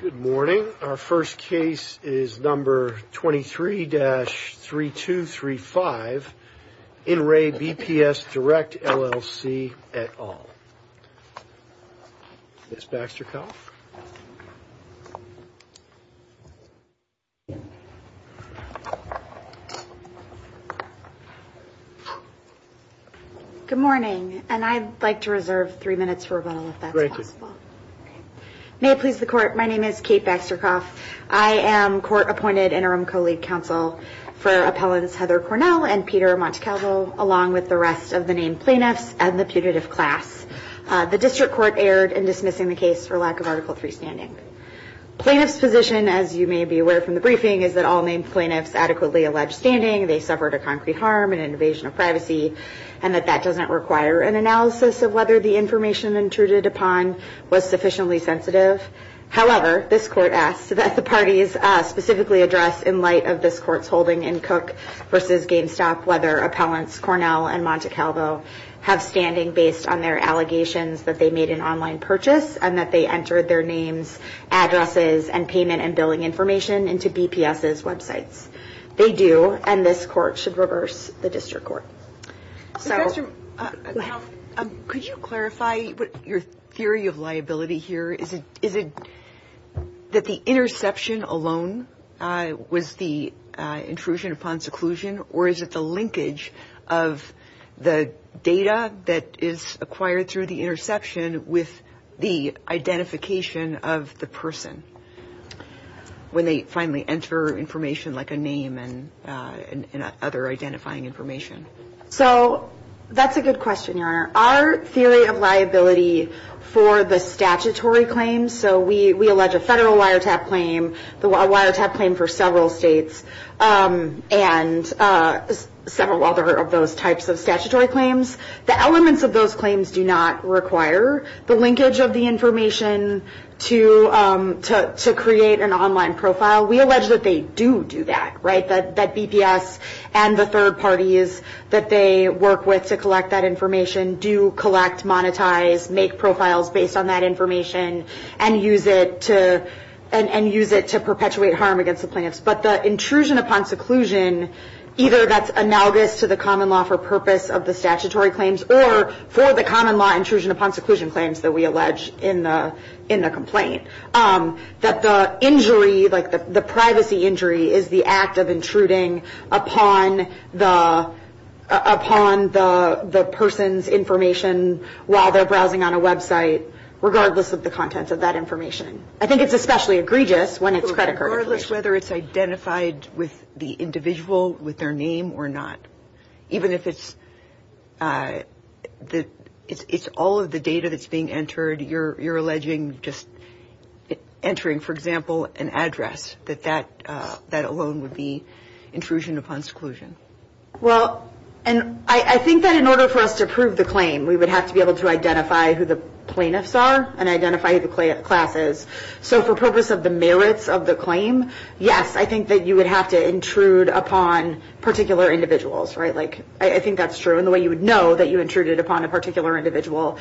Good morning. Our first case is number 23 dash 3 2 3 5 in Ray BPS Direct LLC at all. It's back to health. Good morning, and I'd like to reserve three minutes. May it please the court. My name is Kate Baxter cross. I am court appointed interim colleague counsel for appellate Heather Cornell and Peter Montecalvo, along with the rest of the name plaintiffs and the tutors class. The district court erred in dismissing the case for lack of article free standing. Plaintiff's position, as you may be aware from the briefing, is that all main plaintiffs adequately alleged standing. They suffered a concrete harm and invasion of privacy and that that doesn't require an analysis of whether the information intruded upon was sufficiently sensitive. However, this court asked that the parties specifically address in light of this court's holding and cook versus GameStop, whether accountants Cornell and Monte Calvo have standing based on their allegations that they made an online purchase and that they entered their names, addresses and payment and billing information into BPS's website. They do, and this court should reverse the district court. Could you clarify your theory of liability here? Is it that the interception alone with the intrusion upon seclusion, or is it the linkage of the data that is acquired through the interception with the identification of the person when they finally enter information like a name and other identifying information? So that's a good question, Your Honor. Our theory of liability for the statutory claims, so we allege a federal wiretap claim, the wiretap claim for several states, and several other of those types of statutory claims. The elements of those claims do not require the linkage of the information to create an online profile. We allege that they do do that, right, that BPS and the third parties that they work with to collect that information do collect, monetize, make profiles based on that information and use it to perpetuate harm against the plaintiffs. But the intrusion upon seclusion, either that's analogous to the common law for purpose of the statutory claims or for the common law intrusion upon seclusion claims that we allege in the complaint, that the injury, like the privacy injury, is the act of intruding upon the person's information while they're browsing on a website, regardless of the contents of that information. And I think it's especially egregious when it's credited. Regardless whether it's identified with the individual, with their name or not. Even if it's all of the data that's being entered, you're alleging just entering, for example, an address, that that alone would be intrusion upon seclusion. Well, and I think that in order for us to prove the claim, we would have to be able to identify who the plaintiffs are and identify who the class is. So for purpose of the merits of the claim, yes, I think that you would have to intrude upon particular individuals, right? Like, I think that's true. And the way you would know that you intruded upon a particular individual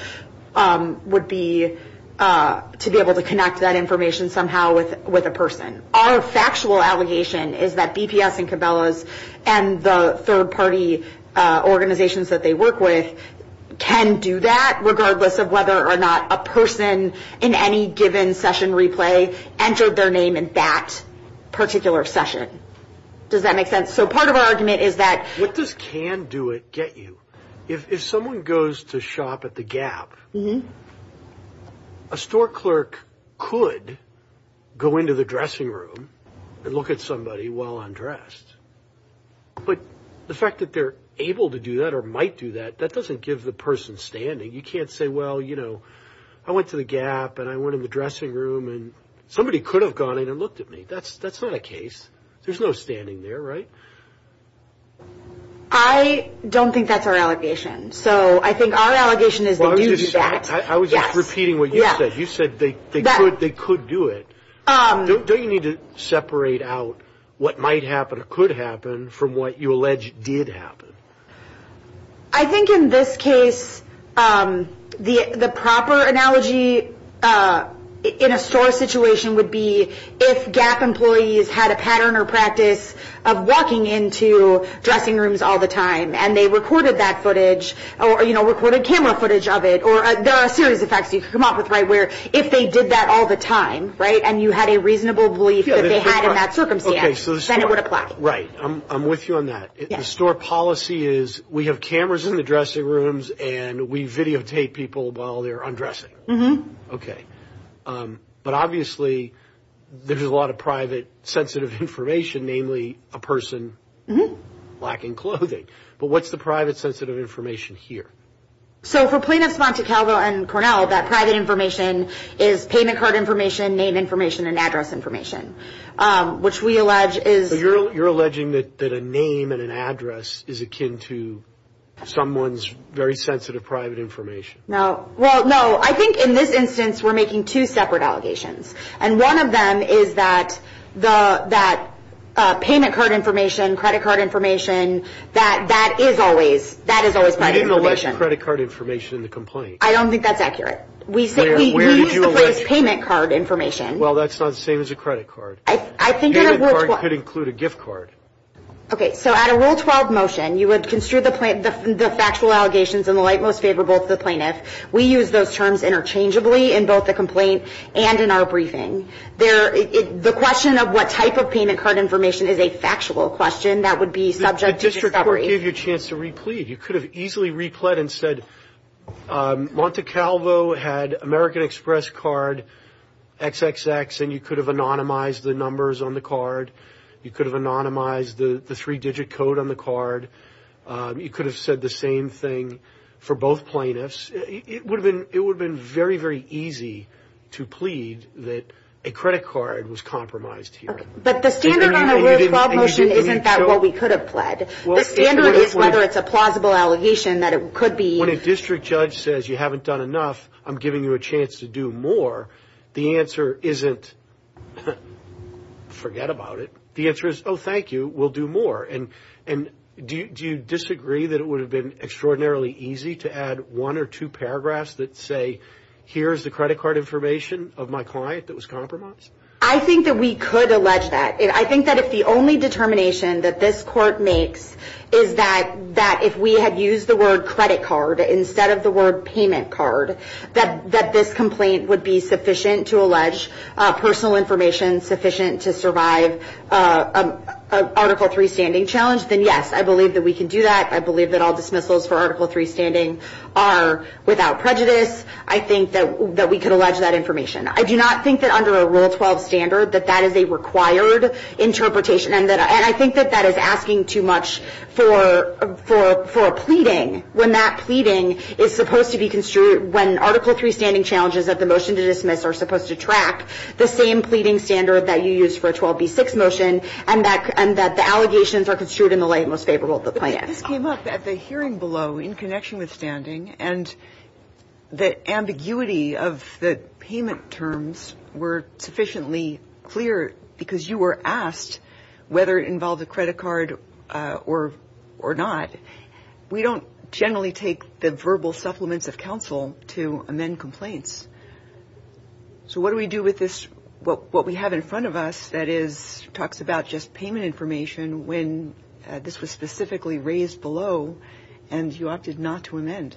would be to be able to connect that information somehow with a person. Our factual allegation is that BPS and Cabela's and the third-party organizations that they work with can do that, regardless of whether or not a person in any given session replay entered their name in that particular session. Does that make sense? So part of our argument is that... If this can do it, get you. If someone goes to shop at the Gap, a store clerk could go into the dressing room and look at somebody while undressed. But the fact that they're able to do that or might do that, that doesn't give the person standing. You can't say, well, you know, I went to the Gap and I went in the dressing room and somebody could have gone in and looked at me. That's not a case. There's no standing there, right? I don't think that's our allegation. So I think our allegation is that we do that. I was just repeating what you said. You said they could do it. Don't you need to separate out what might happen or could happen from what you allege did happen? I think in this case the proper analogy in a store situation would be if Gap employees had a pattern or practice of walking into dressing rooms all the time and they recorded that footage or, you know, recorded camera footage of it. There are a series of facts. This is an office, right, where if they did that all the time, right, and you had a reasonable belief that they had in that circumstance, then it would apply. Right. I'm with you on that. The store policy is we have cameras in the dressing rooms and we videotape people while they're undressing. Okay. But obviously there's a lot of private sensitive information, namely a person lacking clothing. But what's the private sensitive information here? So for plaintiffs, Montecalvo and Cornell, that private information is payment card information, name information, and address information, which we allege is... So you're alleging that a name and an address is akin to someone's very sensitive private information. No. Well, no. I think in this instance we're making two separate allegations, and one of them is that payment card information, credit card information, that is always private information. You didn't allege credit card information in the complaint. I don't think that's accurate. Where did you allege it? We think we allege payment card information. Well, that's not the same as a credit card. Payment card could include a gift card. Okay. So at a Rule 12 motion, you would consider the factual allegations in the light most favorable to the plaintiff. We use those terms interchangeably in both the complaint and in our briefing. The question of what type of payment card information is a factual question. That would be subject to discovery. It just would give you a chance to replete. You could have easily replete and said Montecalvo had American Express card XXX, and you could have anonymized the numbers on the card. You could have anonymized the three-digit code on the card. You could have said the same thing for both plaintiffs. It would have been very, very easy to plead that a credit card was compromised here. But the standard on a Rule 12 motion isn't that what we could have pled. The standard is whether it's a plausible allegation that it could be. When a district judge says you haven't done enough, I'm giving you a chance to do more. The answer isn't forget about it. The answer is, oh, thank you, we'll do more. And do you disagree that it would have been extraordinarily easy to add one or two paragraphs that say, here is the credit card information of my client that was compromised? I think that we could allege that. I think that if the only determination that this court makes is that if we had used the word credit card instead of the word payment card, that this complaint would be sufficient to allege personal information, sufficient to survive an Article 3 standing challenge, then, yes, I believe that we can do that. I believe that all dismissals for Article 3 standing are without prejudice. I think that we could allege that information. I do not think that under a Rule 12 standard that that is a required interpretation, and I think that that is asking too much for a pleading when that pleading is supposed to be construed when Article 3 standing challenges of the motion to dismiss are supposed to track the same pleading standard that you used for a 12B6 motion and that the allegations are construed in the light most favorable to the client. But this came up at the hearing below in connection with standing, and the ambiguity of the payment terms were sufficiently clear because you were asked whether it involved a credit card or not. We don't generally take the verbal supplements of counsel to amend complaints. So what do we do with this, what we have in front of us that talks about just payment information when this was specifically raised below and you opted not to amend?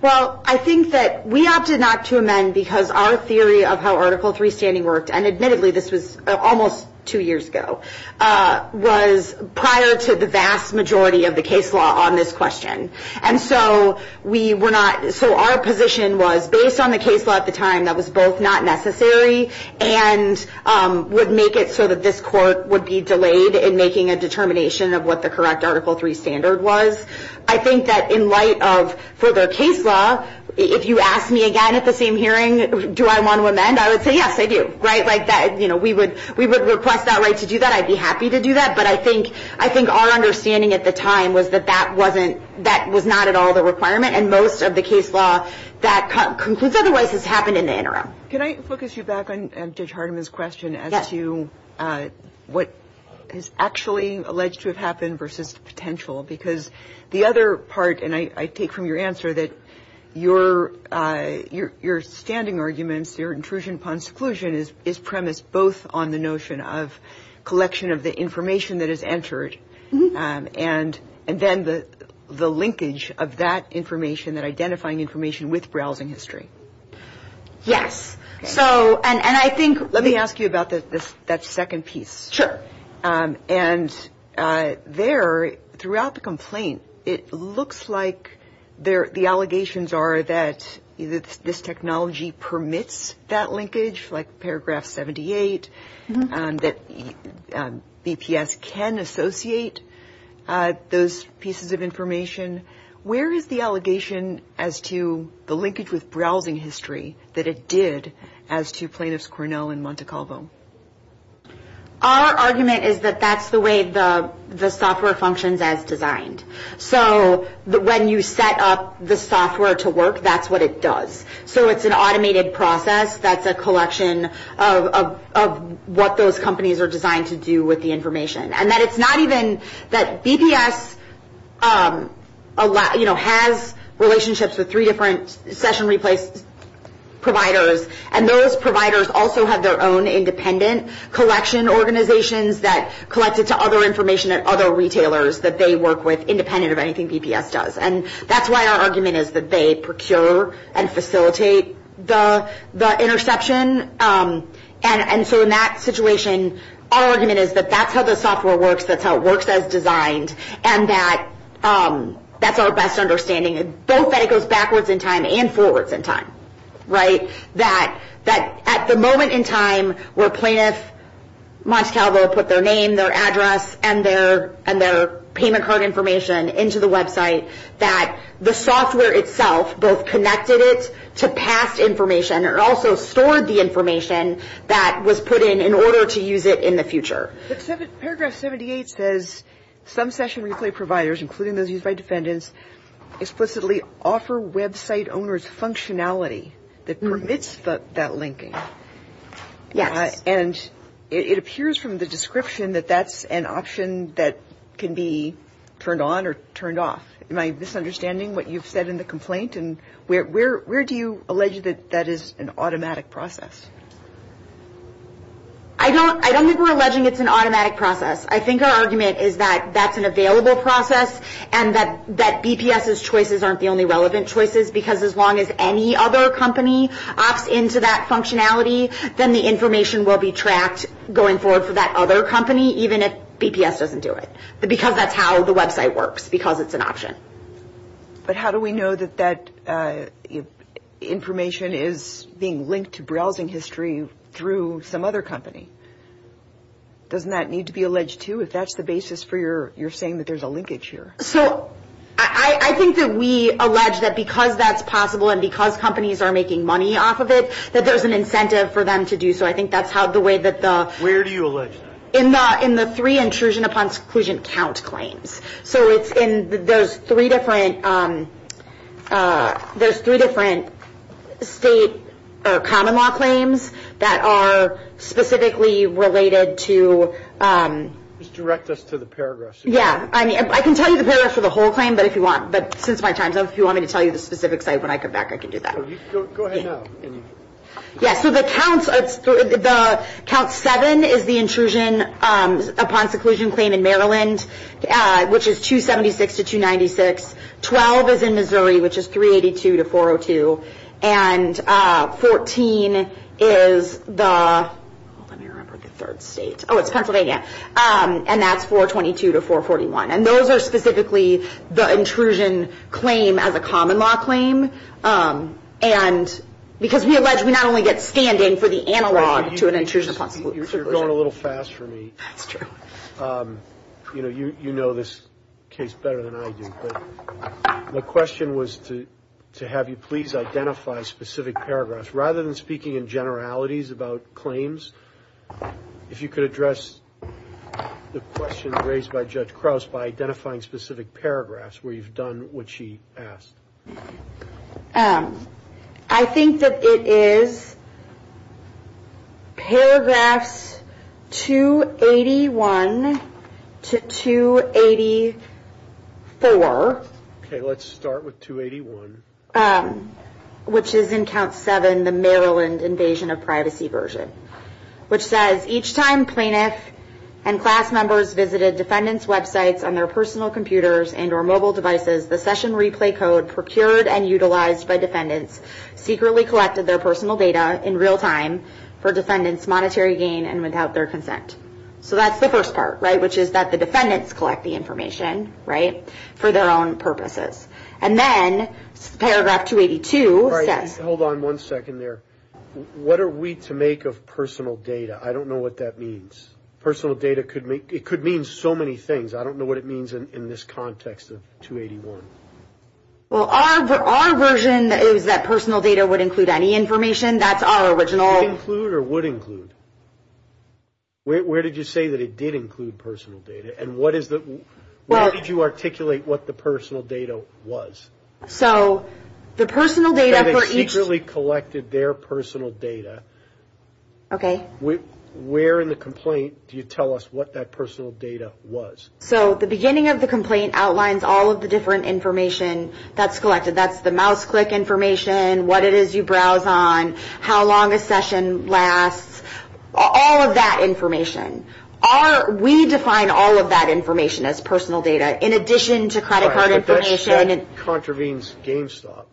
Well, I think that we opted not to amend because our theory of how Article 3 standing worked, and admittedly this was almost two years ago, was prior to the vast majority of the case law on this question. And so we were not, so our position was based on the case law at the time that was both not necessary and would make it so that this court would be delayed in making a determination of what the correct Article 3 standard was. I think that in light of, for the case law, if you asked me again at the same hearing, do I want to amend, I would say yes, I do. We would request that right to do that, I'd be happy to do that, but I think our understanding at the time was that that was not at all the requirement, and most of the case law that constitutes otherwise has happened in the interim. Can I focus you back on Judge Hardiman's question as to what is actually alleged to have happened versus the potential, because the other part, and I take from your answer, that your standing arguments, your intrusion upon seclusion, is premised both on the notion of collection of the information that is entered and then the linkage of that information, that identifying information with browsing history. Yes. So, and I think... Let me ask you about that second piece. Sure. And there, throughout the complaint, it looks like the allegations are that this technology permits that linkage, like Paragraph 78, that EPS can associate those pieces of information. Where is the allegation as to the linkage with browsing history that it did as to Planus Cornell and Monte Carlo? Our argument is that that's the way the software functions as designed. So, when you set up the software to work, that's what it does. So, it's an automated process that's a collection of what those companies are designed to do with the information, and that it's not even that BPS has relationships with three different session replacement providers, and those providers also have their own independent collection organizations that collect it to other information at other retailers that they work with, independent of anything BPS does. And that's why our argument is that they procure and facilitate the interception. And so, in that situation, our argument is that that's how the software works, that's how it works as designed, and that that's our best understanding. Both that it goes backwards in time and forwards in time, right? That at the moment in time where Planus, Monte Carlo put their name, their address, and their payment card information into the website, that the software itself both connected it to past information and also stored the information that was put in in order to use it in the future. Paragraph 78 says, some session replacement providers, including those used by defendants, explicitly offer website owners functionality that permits that linking. Yes. And it appears from the description that that's an option that can be turned on or turned off. Am I misunderstanding what you've said in the complaint? And where do you allege that that is an automatic process? I don't think we're alleging it's an automatic process. I think our argument is that that's an available process and that BPS's choices aren't the only relevant choices, because as long as any other company opts into that functionality, then the information will be tracked going forward for that other company, even if BPS doesn't do it, because that's how the website works, because it's an option. But how do we know that that information is being linked to browsing history through some other company? Doesn't that need to be alleged, too, if that's the basis for your saying that there's a linkage here? So I think that we allege that because that's possible and because companies are making money off of it, that there's an incentive for them to do so. I think that's how the way that the – Where do you allege that? In the three intrusion upon seclusion count claims. So it's in those three different state or common law claims that are specifically related to – Just direct us to the paragraphs. Yeah, I can tell you the paragraphs for the whole claim, but since my time's up, if you want me to tell you the specific site when I come back, I can do that. Go ahead now. Yeah, so the count seven is the intrusion upon seclusion claim in Maryland, which is 276 to 296. Twelve is in Missouri, which is 382 to 402. And 14 is the Pennsylvania, and that's 422 to 441. And those are specifically the intrusion claim as a common law claim. And because we not only get stand-in for the analog to an intrusion upon – You're going a little fast for me. You know this case better than I do. My question was to have you please identify specific paragraphs. Rather than speaking in generalities about claims, if you could address the question raised by Judge Krauss by identifying specific paragraphs where you've done what she asked. I think that it is paragraphs 281 to 284. Okay, let's start with 281. Which is in count seven, the Maryland invasion of privacy version, which says each time plaintiffs and class members visited defendant's website on their personal computers and or mobile devices, the session replay code procured and utilized by defendants secretly collected their personal data in real time for defendants' monetary gain and without their consent. So that's the first part, right, which is that the defendants collect the information, right, for their own purposes. And then paragraph 282 says – Hold on one second there. What are we to make of personal data? I don't know what that means. Personal data could mean so many things. I don't know what it means in this context of 281. Well, our version is that personal data would include any information. That's our original – Would it include or would include? Where did you say that it did include personal data? And what is the – where did you articulate what the personal data was? So the personal data for each – That they secretly collected their personal data. Okay. Where in the complaint do you tell us what that personal data was? So the beginning of the complaint outlines all of the different information that's collected. That's the mouse click information, what it is you browse on, how long a session lasts, all of that information. We define all of that information as personal data in addition to credit card information. All right, but that contravenes GameStop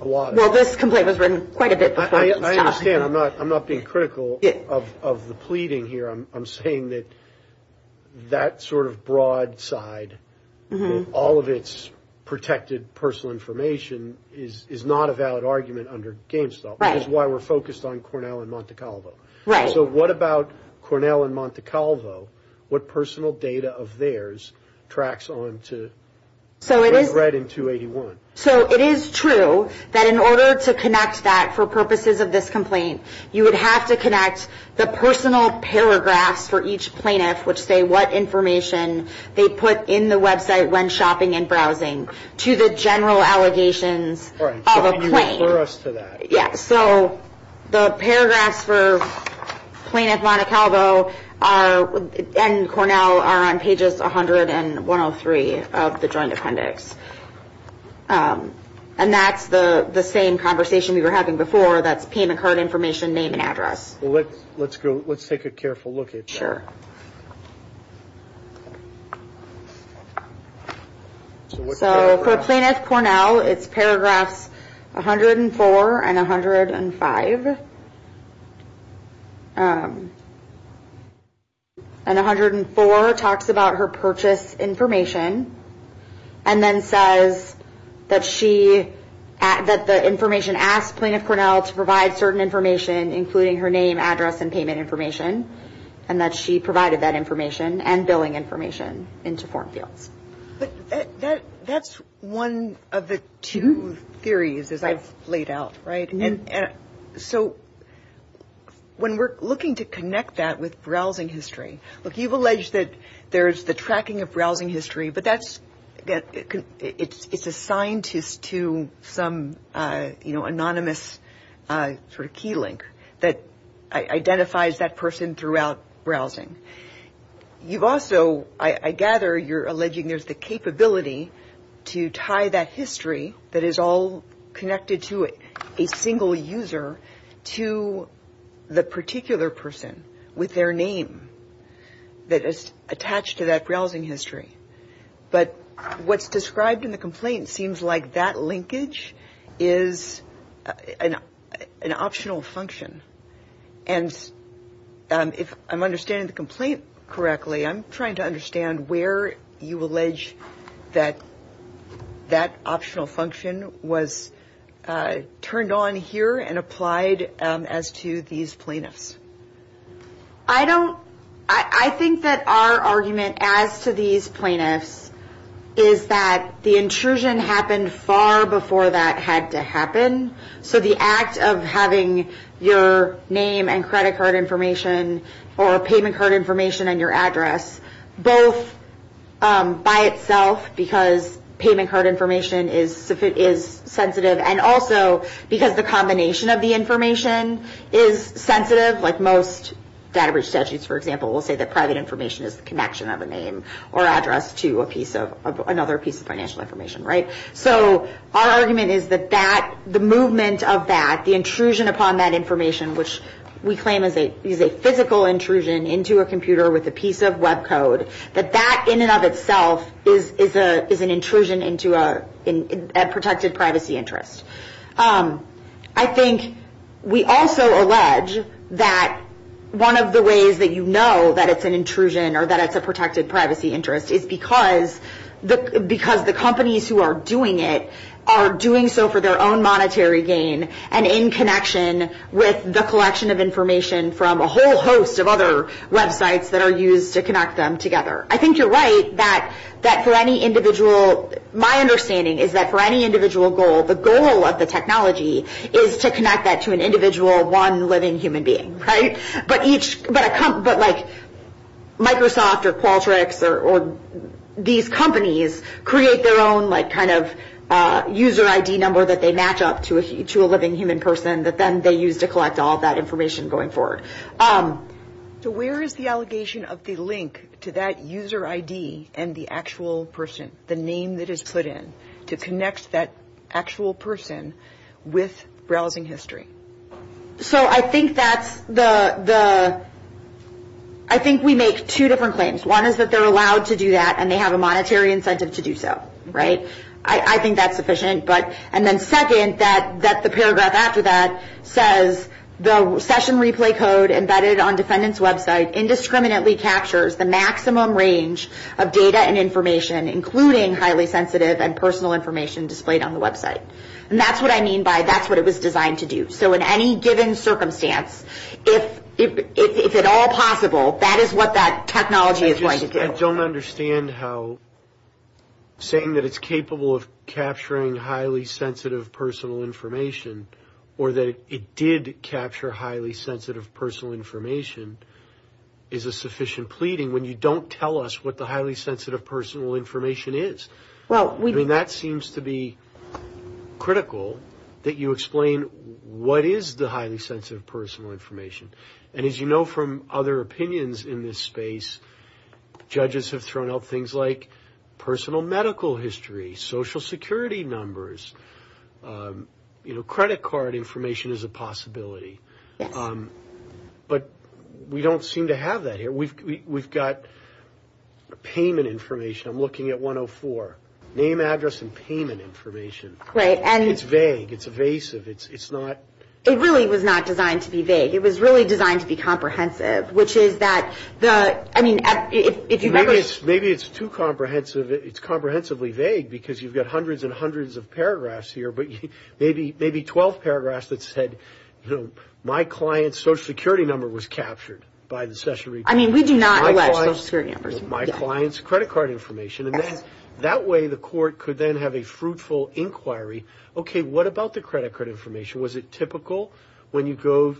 a lot. Well, this complaint was written quite a bit before. I understand. I'm not being critical of the pleading here. I'm saying that that sort of broad side, all of its protected personal information, is not a valid argument under GameStop. Right. That's why we're focused on Cornell and Monte Calvo. Right. So what about Cornell and Monte Calvo? What personal data of theirs tracks on to the threat in 281? So it is true that in order to connect that for purposes of this complaint, you would have to connect the personal paragraph for each plaintiff, which say what information they put in the website when shopping and browsing, to the general allegations of a claim. All right, so can you refer us to that? Yeah, so the paragraphs for Plaintiff, Monte Calvo, and Cornell are on pages 100 and 103 of the Joint Appendix. And that's the same conversation we were having before, that the team incurred information, name, and address. Well, let's take a careful look at that. So for Plaintiff, Cornell, it's paragraphs 104 and 105. And 104 talks about her purchase information, and then says that the information asked Plaintiff, Cornell, to provide certain information, including her name, address, and payment information, and that she provided that information and billing information in support. But that's one of the two theories, as I've laid out, right? And so when we're looking to connect that with browsing history, look, you've alleged that there's the tracking of browsing history, but that's, again, it's assigned to some, you know, anonymous sort of key link that identifies that person throughout browsing. You've also, I gather, you're alleging there's the capability to tie that history that is all connected to a single user to the particular person with their name that is attached to that browsing history. But what's described in the complaint seems like that linkage is an optional function. And if I'm understanding the complaint correctly, I'm trying to understand where you allege that that optional function was turned on here and applied as to these plaintiffs. I think that our argument as to these plaintiffs is that the intrusion happened far before that had to happen. So the act of having your name and credit card information or payment card information and your address, both by itself because payment card information is sensitive and also because the combination of the information is sensitive, like most data breach statutes, for example, will say that private information is a connection of a name or address to another piece of financial information, right? So our argument is that the movement of that, the intrusion upon that information, which we claim is a physical intrusion into a computer with a piece of web code, that that in and of itself is an intrusion into a protected privacy interest. I think we also allege that one of the ways that you know that it's an intrusion or that it's a protected privacy interest is because the companies who are doing it are doing so for their own monetary gain and in connection with the collection of information from a whole host of other websites that are used to connect them together. I think you're right that for any individual, my understanding is that for any individual goal, the goal of the technology is to connect that to an individual one living human being, right? But like Microsoft or Qualtrics or these companies create their own like kind of user ID number that they match up to a living human person that then they use to collect all that information going forward. So where is the allegation of the link to that user ID and the actual person, the name that is put in, to connect that actual person with browsing history? So I think that's the... I think we make two different claims. One is that they're allowed to do that and they have a monetary incentive to do so, right? I think that's sufficient. And then second, that the paragraph after that says, the session replay code embedded on the defendant's website indiscriminately captures the maximum range of data and information including highly sensitive and personal information displayed on the website. And that's what I mean by that's what it was designed to do. So in any given circumstance, if at all possible, that is what that technology is going to do. I just don't understand how saying that it's capable of capturing highly sensitive personal information or that it did capture highly sensitive personal information is a sufficient pleading when you don't tell us what the highly sensitive personal information is. I mean, that seems to be critical that you explain what is the highly sensitive personal information. And as you know from other opinions in this space, judges have thrown out things like personal medical history, social security numbers, you know, credit card information is a possibility. But we don't seem to have that here. We've got payment information. I'm looking at 104. Name, address, and payment information. It's vague. It's evasive. It's not. It really was not designed to be vague. It was really designed to be comprehensive, which is that the, I mean. Maybe it's too comprehensive. It's comprehensively vague because you've got hundreds and hundreds of paragraphs here. But maybe 12 paragraphs that said, you know, my client's social security number was captured by the session replay. I mean, we do not elect social security numbers. My client's credit card information. And then that way the court could then have a fruitful inquiry. Okay, what about the credit card information? Was it typical when you go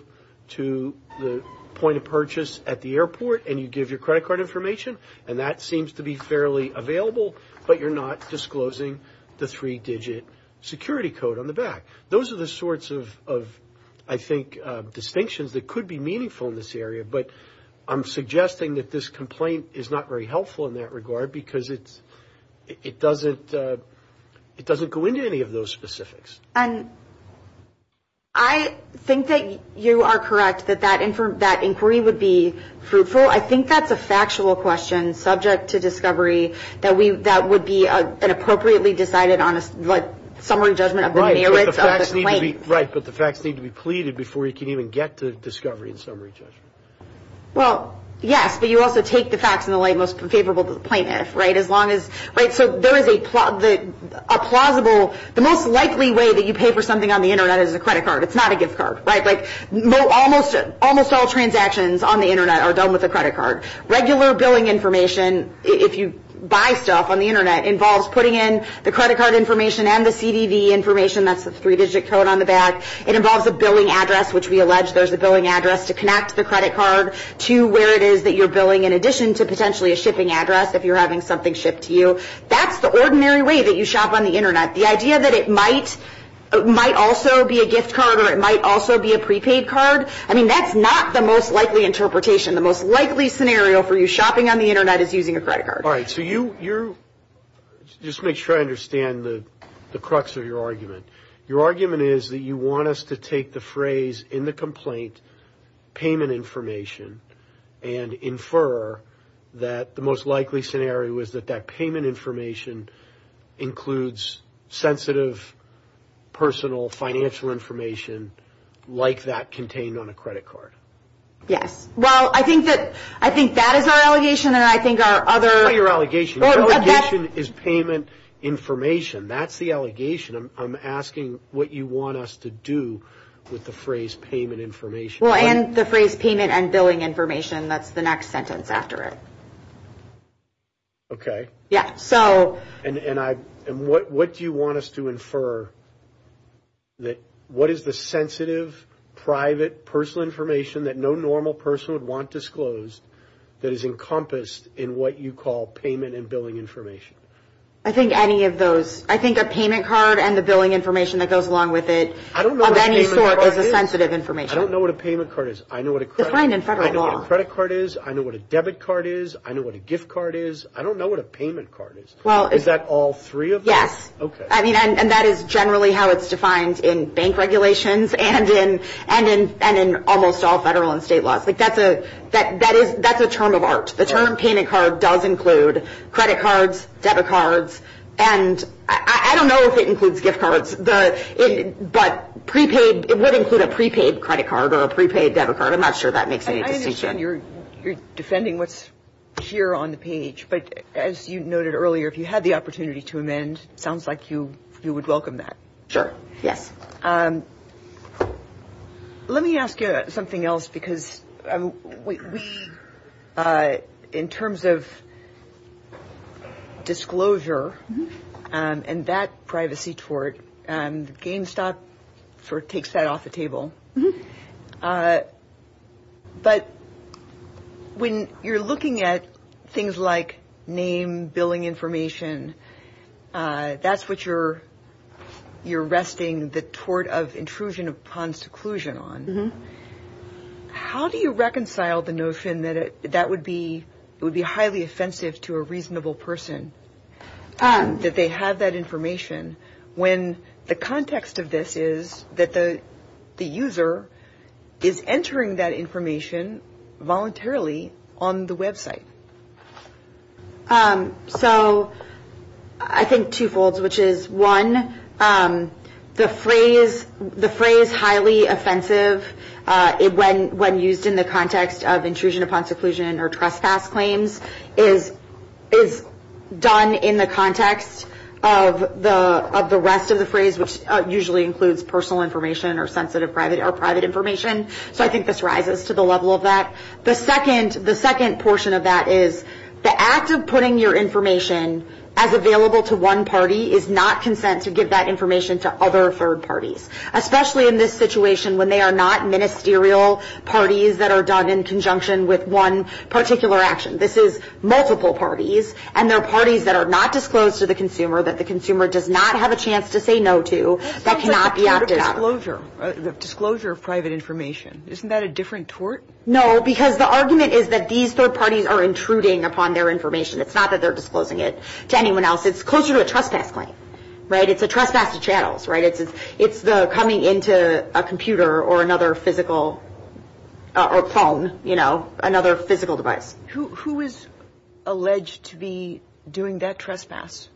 to the point of purchase at the airport and you give your credit card information? And that seems to be fairly available, but you're not disclosing the three-digit security code on the back. Those are the sorts of, I think, distinctions that could be meaningful in this area. But I'm suggesting that this complaint is not very helpful in that regard because it doesn't go into any of those specifics. And I think that you are correct that that inquiry would be fruitful. I think that's a factual question subject to discovery that would be appropriately decided on a summary judgment of the merits of the claim. Right, but the facts need to be pleaded before you can even get to discovery and summary judgment. Well, yes, but you also take the facts in the light most favorable to the plaintiff, right? So there is a plausible – the most likely way that you pay for something on the Internet is a credit card. It's not a gift card, right? Like almost all transactions on the Internet are done with a credit card. Regular billing information, if you buy stuff on the Internet, involves putting in the credit card information and the CDV information, that's the three-digit code on the back. It involves a billing address, which we allege there's a billing address to connect the credit card to where it is that you're billing, in addition to potentially a shipping address if you're having something shipped to you. That's the ordinary way that you shop on the Internet. The idea that it might also be a gift card or it might also be a prepaid card, I mean, that's not the most likely interpretation. The most likely scenario for you shopping on the Internet is using a credit card. All right, so you – just to make sure I understand the crux of your argument. Your argument is that you want us to take the phrase in the complaint, payment information, and infer that the most likely scenario is that that payment information includes sensitive, personal, financial information like that contained on a credit card. Yes, well, I think that is our allegation, and I think our other – That's not your allegation. Our allegation is payment information. That's the allegation. I'm asking what you want us to do with the phrase payment information. Well, and the phrase payment and billing information, that's the next sentence after it. Okay. Yes, so – And what do you want us to infer that what is the sensitive, private, personal information that no normal person would want disclosed that is encompassed in what you call payment and billing information? I think any of those. I think a payment card and the billing information that goes along with it of any sort is a sensitive information. I don't know what a payment card is. Define in federal law. I know what a credit card is. I know what a debit card is. I know what a gift card is. I don't know what a payment card is. Is that all three of those? Okay. I mean, and that is generally how it's defined in bank regulations and in almost all federal and state law. That's a term of art. The term payment card does include credit cards, debit cards, and I don't know if it includes gift cards, but prepaid – it would include a prepaid credit card or a prepaid debit card. I'm not sure that makes any distinction. You're defending what's here on the page, but as you noted earlier, if you had the opportunity to amend, it sounds like you would welcome that. Sure. Let me ask you something else because in terms of disclosure and that privacy tort, and GameStop sort of takes that off the table, but when you're looking at things like name, billing information, that's what you're arresting the tort of intrusion upon seclusion on. How do you reconcile the notion that that would be highly offensive to a reasonable person, that they have that information, when the context of this is that the user is entering that information voluntarily on the website? So, I think twofold, which is, one, the phrase highly offensive, when used in the context of intrusion upon seclusion or trespass claims, is done in the context of the rest of the phrase, which usually includes personal information or sensitive or private information. So, I think this rises to the level of that. The second portion of that is the act of putting your information as available to one party is not consent to give that information to other third parties, especially in this situation when they are not ministerial parties that are done in conjunction with one particular action. This is multiple parties, and they're parties that are not disclosed to the consumer, that the consumer does not have a chance to say no to, that cannot be acted on. Disclosure of private information, isn't that a different tort? No, because the argument is that these third parties are intruding upon their information. It's not that they're disclosing it to anyone else. It's closer to a trespass claim, right? It's a trespass to channels, right? It's coming into a computer or another physical phone, you know, another physical device. Who is alleged to be doing that trespass?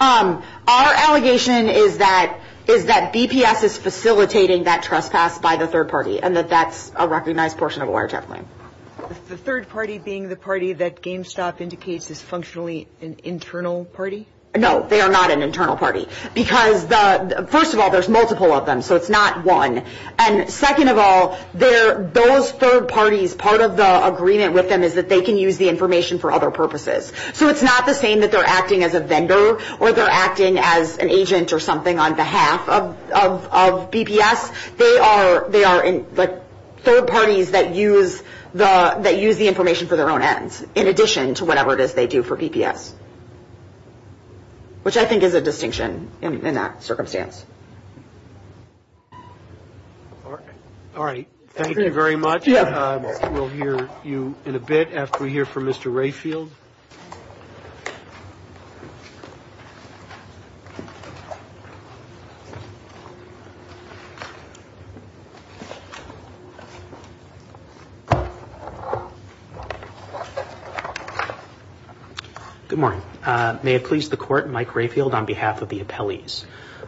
Our allegation is that BPS is facilitating that trespass by the third party, and that that's a recognized portion of a wiretap claim. The third party being the party that GameStop indicates is functionally an internal party? No, they are not an internal party, because first of all, there's multiple of them, so it's not one. And second of all, those third parties, part of the agreement with them is that they can use the information for other purposes. So it's not the same that they're acting as a vendor, or they're acting as an agent or something on behalf of BPS. They are the third parties that use the information for their own ends, in addition to whatever it is they do for BPS, which I think is a distinction in that circumstance. All right. Thank you very much. We'll hear you in a bit after we hear from Mr. Rayfield. Thank you. Good morning. May it please the Court, Mike Rayfield on behalf of the appellees.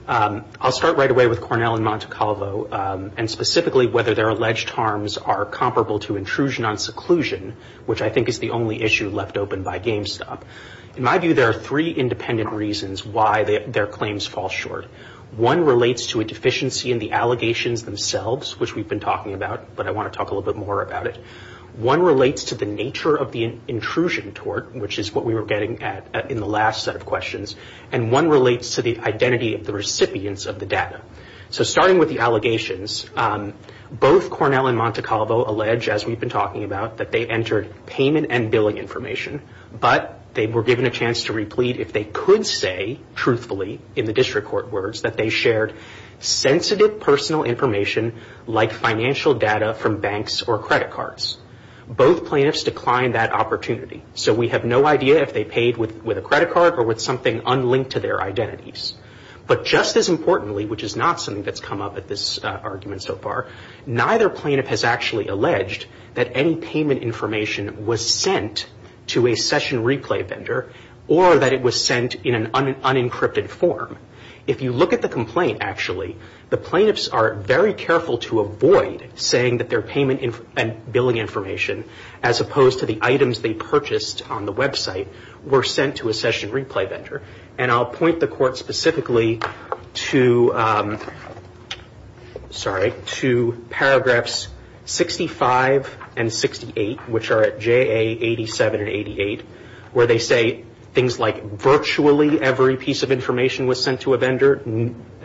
I'll start right away with Cornell and Monte Calvo, and specifically whether their alleged harms are comparable to intrusion on seclusion, which I think is the only issue left open by GameStop. In my view, there are three independent reasons why their claims fall short. One relates to a deficiency in the allegations themselves, which we've been talking about, but I want to talk a little bit more about it. One relates to the nature of the intrusion tort, which is what we were getting at in the last set of questions, and one relates to the identity of the recipients of the data. So starting with the allegations, both Cornell and Monte Calvo allege, as we've been talking about, that they entered payment and billing information, but they were given a chance to replete if they could say, truthfully, in the district court words, that they shared sensitive personal information like financial data from banks or credit cards. Both plaintiffs declined that opportunity, so we have no idea if they paid with a credit card or with something unlinked to their identities. But just as importantly, which is not something that's come up at this argument so far, neither plaintiff has actually alleged that any payment information was sent to a session replay vendor or that it was sent in an unencrypted form. If you look at the complaint, actually, the plaintiffs are very careful to avoid saying that their payment and billing information, as opposed to the items they purchased on the website, were sent to a session replay vendor, and I'll point the court specifically to paragraphs 65 and 68, which are at JA 87 and 88, where they say things like, virtually every piece of information was sent to a vendor,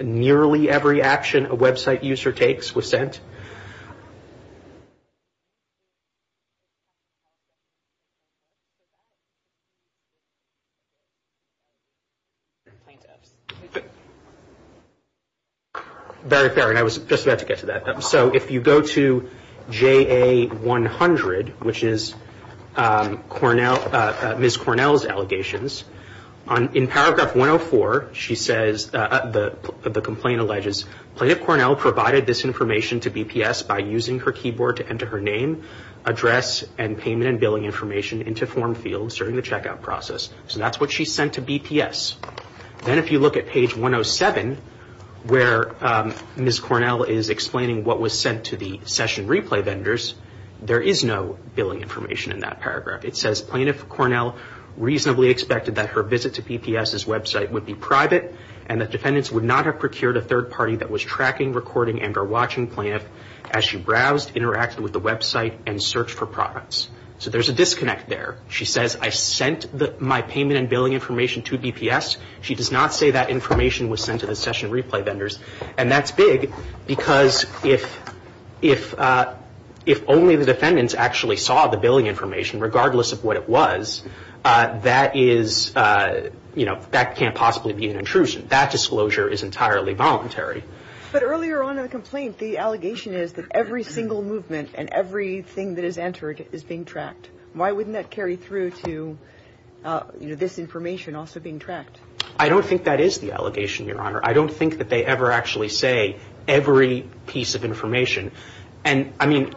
nearly every action a website user takes was sent. Plaintiffs. Very fair, and I was just about to get to that. So if you go to JA 100, which is Ms. Cornell's allegations, in paragraph 104 she says, the complaint alleges, Plaintiff Cornell provided this information to BPS by using her keyboard to enter her name, address, and payment and billing information into form fields during the checkout process. So that's what she sent to BPS. Then if you look at page 107, where Ms. Cornell is explaining what was sent to the session replay vendors, there is no billing information in that paragraph. It says, Plaintiff Cornell reasonably expected that her visit to BPS's website would be private and that defendants would not have procured a third party that was tracking, recording, and or watching Plaintiff as she browsed, interacted with the website, and searched for products. So there's a disconnect there. She says, I sent my payment and billing information to BPS. She does not say that information was sent to the session replay vendors, and that's big because if only the defendants actually saw the billing information, regardless of what it was, that can't possibly be an intrusion. That disclosure is entirely voluntary. But earlier on in the complaint, the allegation is that every single movement and everything that is entered is being tracked. Why wouldn't that carry through to this information also being tracked? I don't think that is the allegation, Your Honor. I don't think that they ever actually say every piece of information. And, I mean...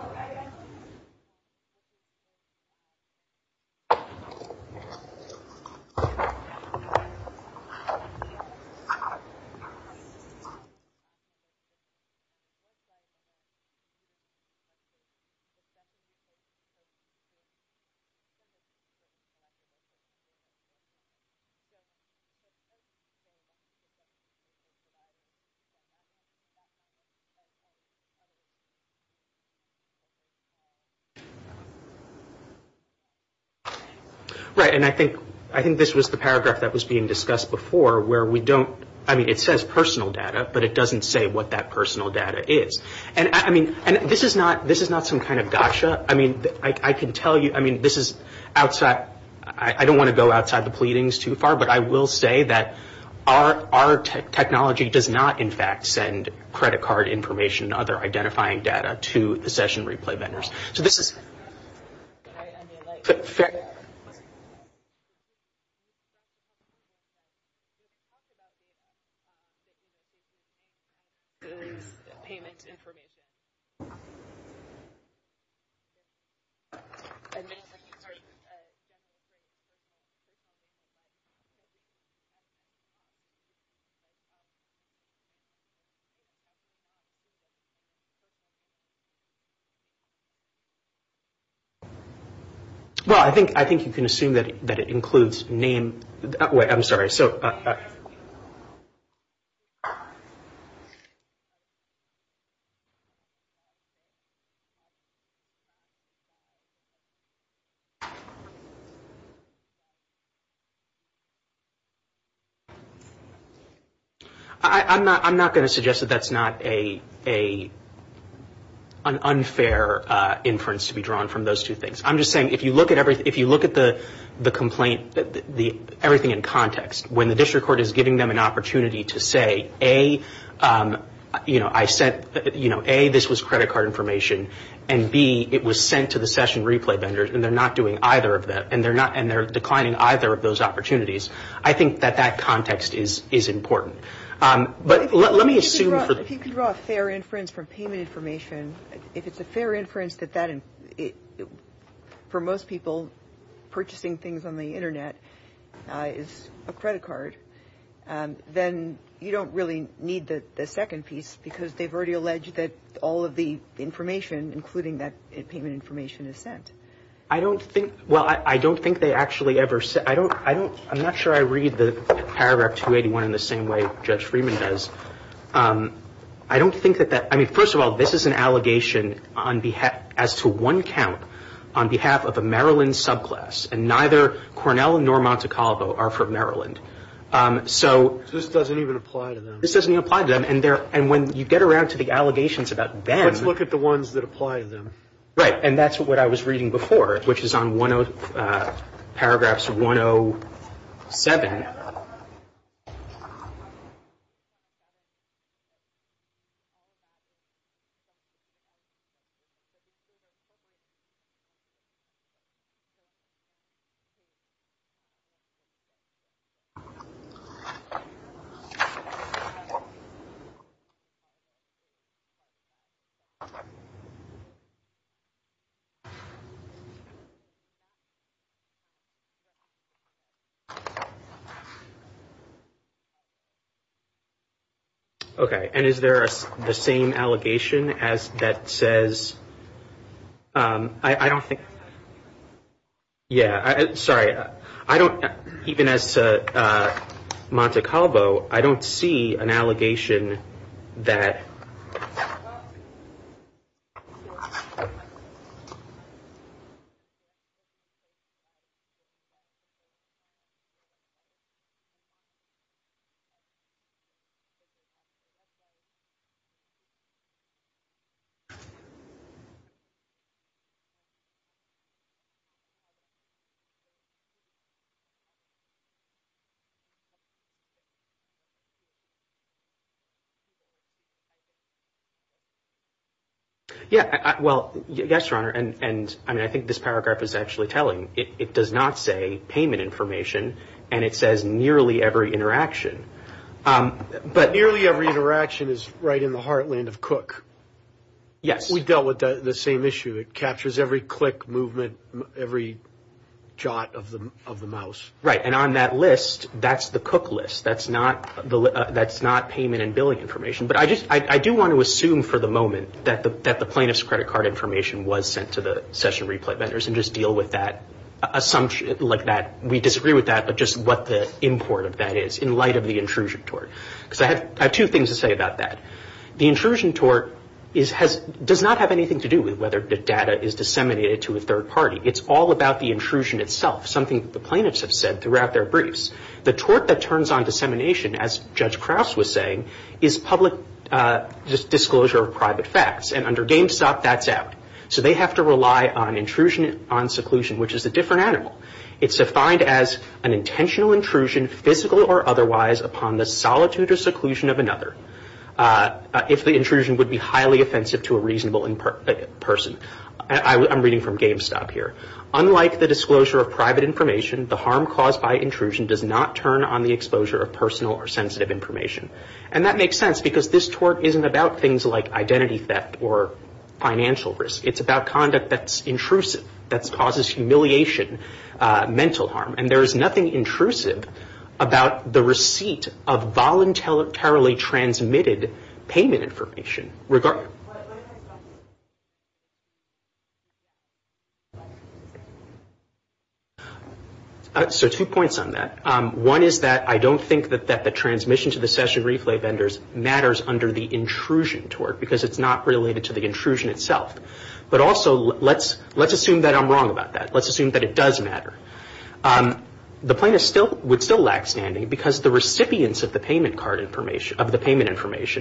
Right. And I think this was the paragraph that was being discussed before where we don't... I mean, it says personal data, but it doesn't say what that personal data is. And, I mean, this is not some kind of gotcha. I mean, I can tell you, I mean, this is outside... I don't want to go outside the pleadings too far, but I will say that our technology does not, in fact, send credit card information and other identifying data to the session replay vendors. So this is... Well, I think you can assume that it includes name... I'm sorry, so... I'm not going to suggest that that's not a... an unfair inference to be drawn from those two things. I'm just saying, if you look at the complaint, everything in context, when the district court is giving them an opportunity to say, A, this was credit card information, and B, it was sent to the session replay vendors, and they're not doing either of that, and they're declining either of those opportunities, I think that that context is important. But let me assume... If you can draw a fair inference from payment information, if it's a fair inference that that... For most people, purchasing things on the Internet is a credit card, then you don't really need the second piece, because they've already alleged that all of the information, including that payment information, is sent. I don't think... Well, I don't think they actually ever... I'm not sure I read the paragraph 281 in the same way Judge Freeman does. I don't think that that... I mean, first of all, this is an allegation as to one count on behalf of a Maryland subclass, and neither Cornell nor Monte Carlo are from Maryland. So... This doesn't even apply to them. This doesn't even apply to them, and when you get around to the allegations about them... Just look at the ones that apply to them. Right, and that's what I was reading before, which is on paragraphs 107. Okay, and is there the same allegation that says... I don't think... Yeah, sorry. I don't... Even as to Monte Carlo, I don't see an allegation that... I don't see an allegation that... Yeah, well, yes, Your Honor, and I think this paragraph is actually telling. It does not say payment information, and it says nearly every interaction. But... Nearly every interaction is right in the heartland of Cook. Yes. We've dealt with the same issue. It captures every click, movement, every jot of the mouse. Right, and on that list, that's the Cook list. That's not payment and billing information. But I do want to assume for the moment that the plaintiff's credit card information was sent to the session replay vendors and just deal with that assumption like that. We disagree with that, but just what the import of that is in light of the intrusion tort. Because I have two things to say about that. The intrusion tort does not have anything to do with whether the data is disseminated to a third party. It's all about the intrusion itself, something that the plaintiffs have said throughout their briefs. The tort that turns on dissemination, as Judge Krauss was saying, is public disclosure of private facts. And under GameStop, that's out. So they have to rely on intrusion on seclusion, which is a different animal. It's defined as an intentional intrusion, physical or otherwise, upon the solitude or seclusion of another if the intrusion would be highly offensive to a reasonable person. I'm reading from GameStop here. Unlike the disclosure of private information, the harm caused by intrusion does not turn on the exposure of personal or sensitive information. And that makes sense, because this tort isn't about things like identity theft or financial risk. It's about conduct that's intrusive, that causes humiliation, mental harm. And there is nothing intrusive about the receipt of voluntarily transmitted payment information. So two points on that. One is that I don't think that the transmission to the session replay vendors matters under the intrusion tort, because it's not related to the intrusion itself. But also, let's assume that I'm wrong about that. Let's assume that it does matter. The point would still lack standing, because the recipients of the payment information,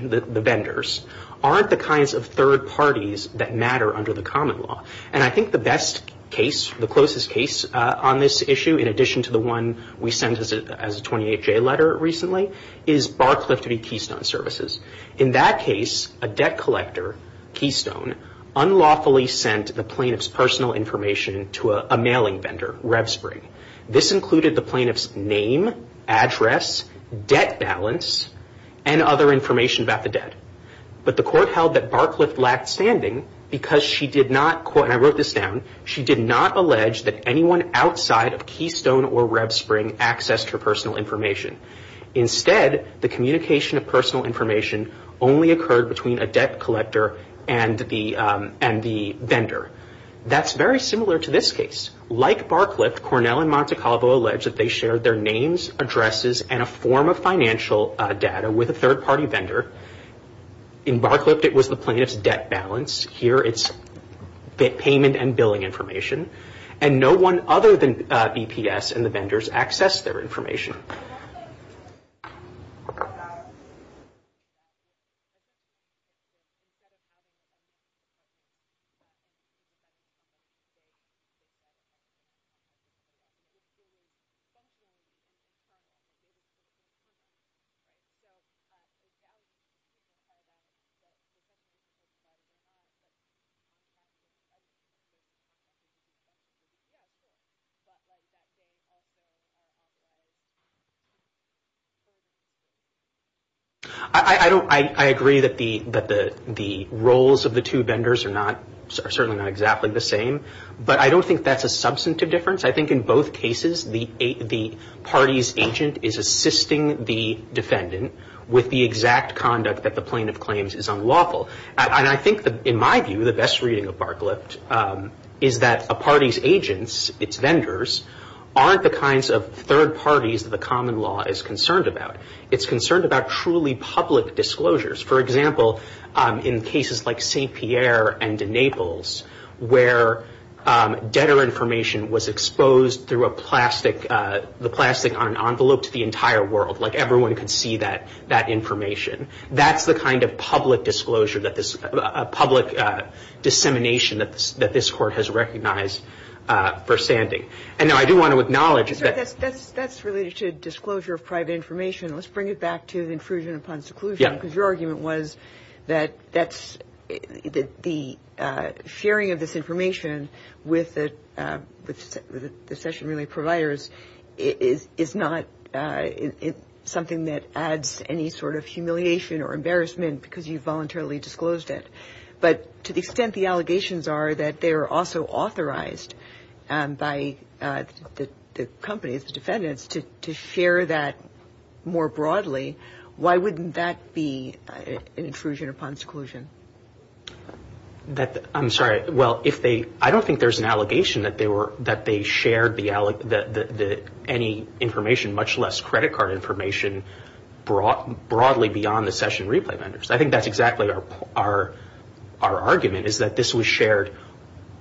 the vendors, aren't the kinds of third parties that matter under the common law. And I think the best case, the closest case on this issue, in addition to the one we sent as a 28-J letter recently, is Barcliffe v. Keystone Services. In that case, a debt collector, Keystone, unlawfully sent the plaintiff's personal information to a mailing vendor, RevSpring. This included the plaintiff's name, address, debt balance, and other information about the debt. But the court held that Barcliffe lacked standing, because she did not, and I wrote this down, she did not allege that anyone outside of Keystone or RevSpring accessed her personal information. Instead, the communication of personal information only occurred between a debt collector and the vendor. That's very similar to this case. Like Barcliffe, Cornell and Monte Carlo allege that they shared their names, addresses, and a form of financial data with a third-party vendor. In Barcliffe, it was the plaintiff's debt balance. Here, it's payment and billing information. And no one other than EPS and the vendors accessed their information. Thank you. I agree that the roles of the two vendors are certainly not exactly the same, but I don't think that's a substantive difference. I think in both cases, the party's agent is assisting the defendant with the exact conduct that the plaintiff claims is unlawful. And I think, in my view, the best reading of Barcliffe is that a party's agents, its vendors, aren't the kinds of third parties that the common law is concerned about. It's concerned about truly public disclosures. For example, in cases like St. Pierre and in Naples, where debtor information was exposed through the plastic on an envelope to the entire world. Like, everyone could see that information. That's the kind of public dissemination that this court has recognized for standing. I do want to acknowledge that... That's related to disclosure of private information. Let's bring it back to the intrusion upon seclusion, because your argument was that the sharing of this information with the session relay providers is not something that adds to any sort of humiliation or embarrassment because you voluntarily disclosed it. But to the extent the allegations are that they are also authorized by the company, the defendants, to share that more broadly, why wouldn't that be an intrusion upon seclusion? I'm sorry. Well, I don't think there's an allegation that they shared any information, much less credit card information, broadly beyond the session relay vendors. I think that's exactly our argument, is that this was shared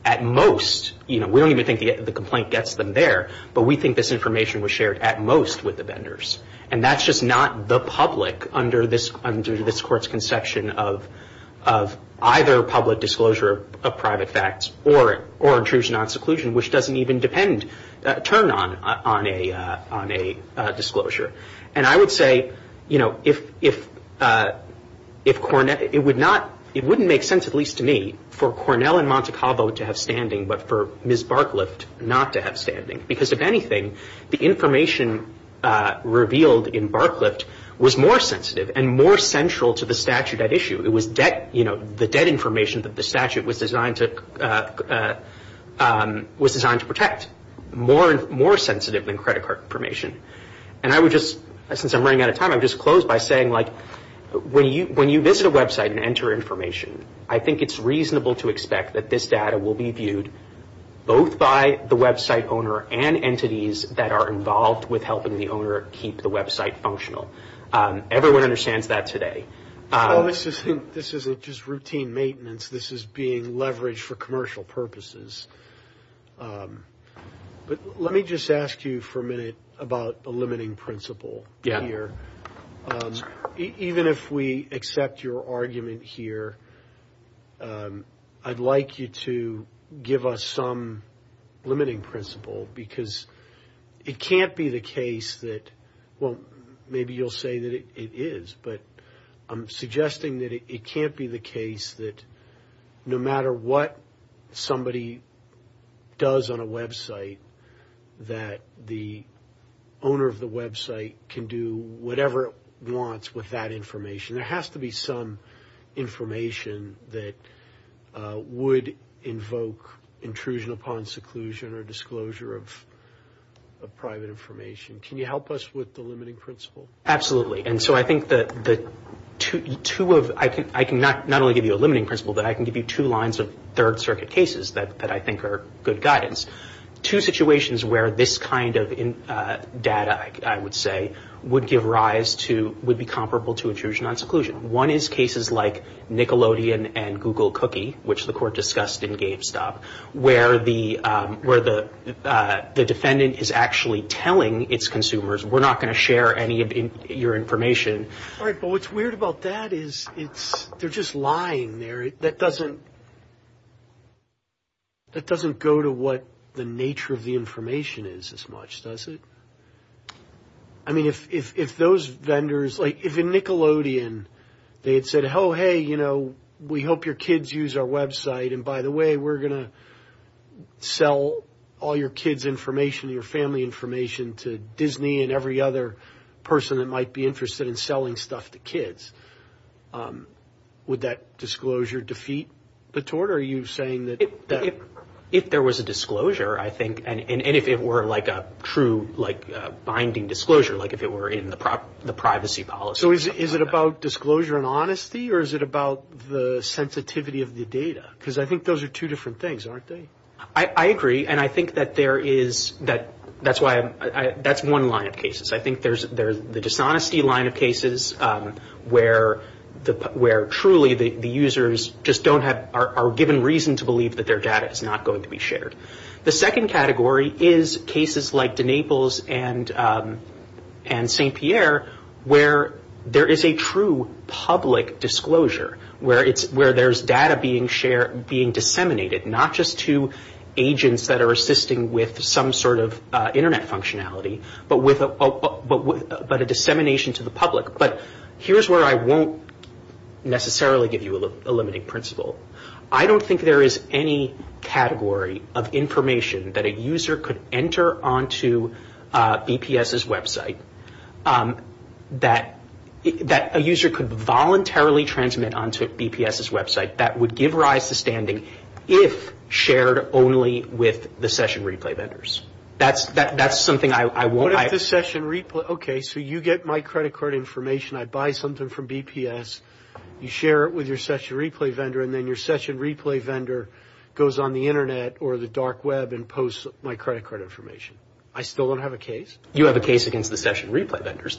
at most. We don't even think the complaint gets them there, but we think this information was shared at most with the vendors. And that's just not the public under this court's conception of either public disclosure of private facts or intrusion on seclusion, which doesn't even turn on a disclosure. And I would say, you know, if Cornett... It wouldn't make sense, at least to me, for Cornell and Monte Carlo to have standing but for Ms. Barclift not to have standing. Because if anything, the information revealed in Barclift was more sensitive and more central to the statute at issue. It was, you know, the debt information that the statute was designed to protect. More sensitive than credit card information. And I would just, since I'm running out of time, I would just close by saying, like, when you visit a website and enter information, I think it's reasonable to expect that this data will be viewed both by the website owner and entities that are involved with helping the owner keep the website functional. Everyone understands that today. This isn't just routine maintenance. This is being leveraged for commercial purposes. But let me just ask you for a minute about the limiting principle here. Even if we accept your argument here, I'd like you to give us some limiting principle because it can't be the case that, well, maybe you'll say that it is, but I'm suggesting that it can't be the case that no matter what somebody does on a website, that the owner of the website can do whatever it wants with that information. There has to be some information that would invoke intrusion upon seclusion or disclosure of private information. Can you help us with the limiting principle? Absolutely. And so I think that two of, I can not only give you a limiting principle, but I can give you two lines of Third Circuit cases that I think are good guidance. Two situations where this kind of data, I would say, would give rise to, would be comparable to intrusion on seclusion. One is cases like Nickelodeon and Google Cookie, which the court discussed in Gabe's stop, where the defendant is actually telling its consumers, we're not going to share any of your information. Right, but what's weird about that is they're just lying there. That doesn't go to what the nature of the information is as much, does it? I mean, if those vendors, like if in Nickelodeon, they had said, oh, hey, you know, we hope your kids use our website, and by the way, we're going to sell all your kids' information, your family information to Disney and every other person that might be interested in selling stuff to kids. Would that disclosure defeat the tort? Are you saying that... If there was a disclosure, I think, and if it were like a true binding disclosure, like if it were in the privacy policy... So is it about disclosure and honesty, or is it about the sensitivity of the data? Because I think those are two different things, aren't they? I agree, and I think that there is, that's one line of cases. I think there's the dishonesty line of cases where truly the users just don't have, are given reason to believe that their data is not going to be shared. The second category is cases like DeNapol's and St. Pierre where there is a true public disclosure, where there's data being shared, being disseminated, not just to agents that are assisting with some sort of Internet functionality, but a dissemination to the public, but here's where I won't necessarily give you a limiting principle. I don't think there is any category of information that a user could enter onto BPS's website that a user could voluntarily transmit onto BPS's website that would give rise to standing if shared only with the session replay vendors. That's something I won't... Okay, so you get my credit card information, I buy something from BPS, you share it with your session replay vendor and then your session replay vendor goes on the Internet or the dark web and posts my credit card information. I still don't have a case? You have a case against the session replay vendors,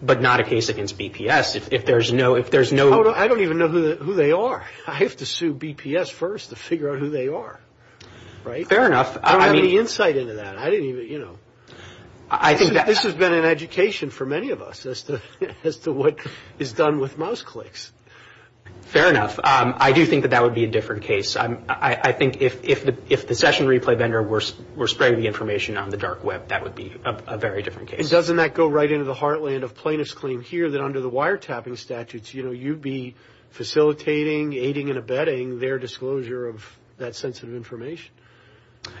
but not a case against BPS. If there's no... I don't even know who they are. I have to sue BPS first to figure out who they are. Fair enough. I don't have any insight into that. This has been an education for many of us as to what is done with mouse clicks. Fair enough. I do think that that would be a different case. I think if the session replay vendor were spreading the information on the dark web, that would be a very different case. And doesn't that go right into the heartland of plaintiff's claim here that under the wiretapping statutes, you'd be facilitating, aiding and abetting their disclosure of that sensitive information?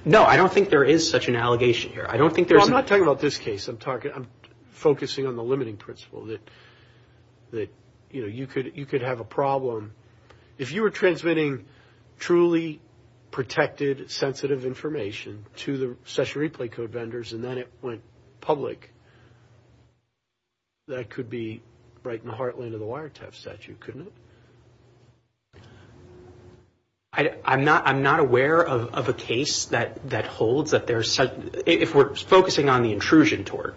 No, I don't think there is such an allegation here. I don't think there's... I'm not talking about this case. I'm focusing on the limiting principle that you could have a problem. If you were transmitting truly protected sensitive information to the session replay code vendors and then it went public, that could be right in the heartland of the wiretap statute, couldn't it? I'm not aware of a case that holds that there's such... If we're focusing on the intrusion tort,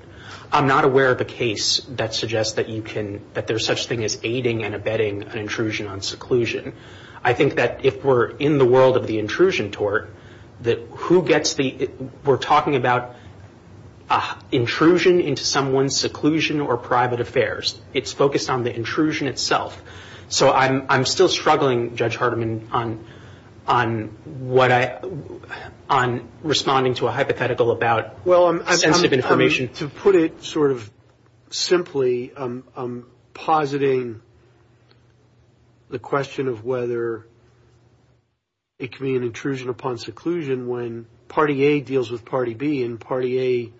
I'm not aware of a case that suggests that you can... that there's such thing as aiding and abetting an intrusion on seclusion. I think that if we're in the world of the intrusion tort, that who gets the... We're talking about intrusion into someone's seclusion or private affairs. It's focused on the intrusion itself. So I'm still struggling, Judge Hardiman, on responding to a hypothetical about sensitive information. Well, to put it sort of simply, I'm positing the question of whether it can be an intrusion upon seclusion when party A deals with party B and party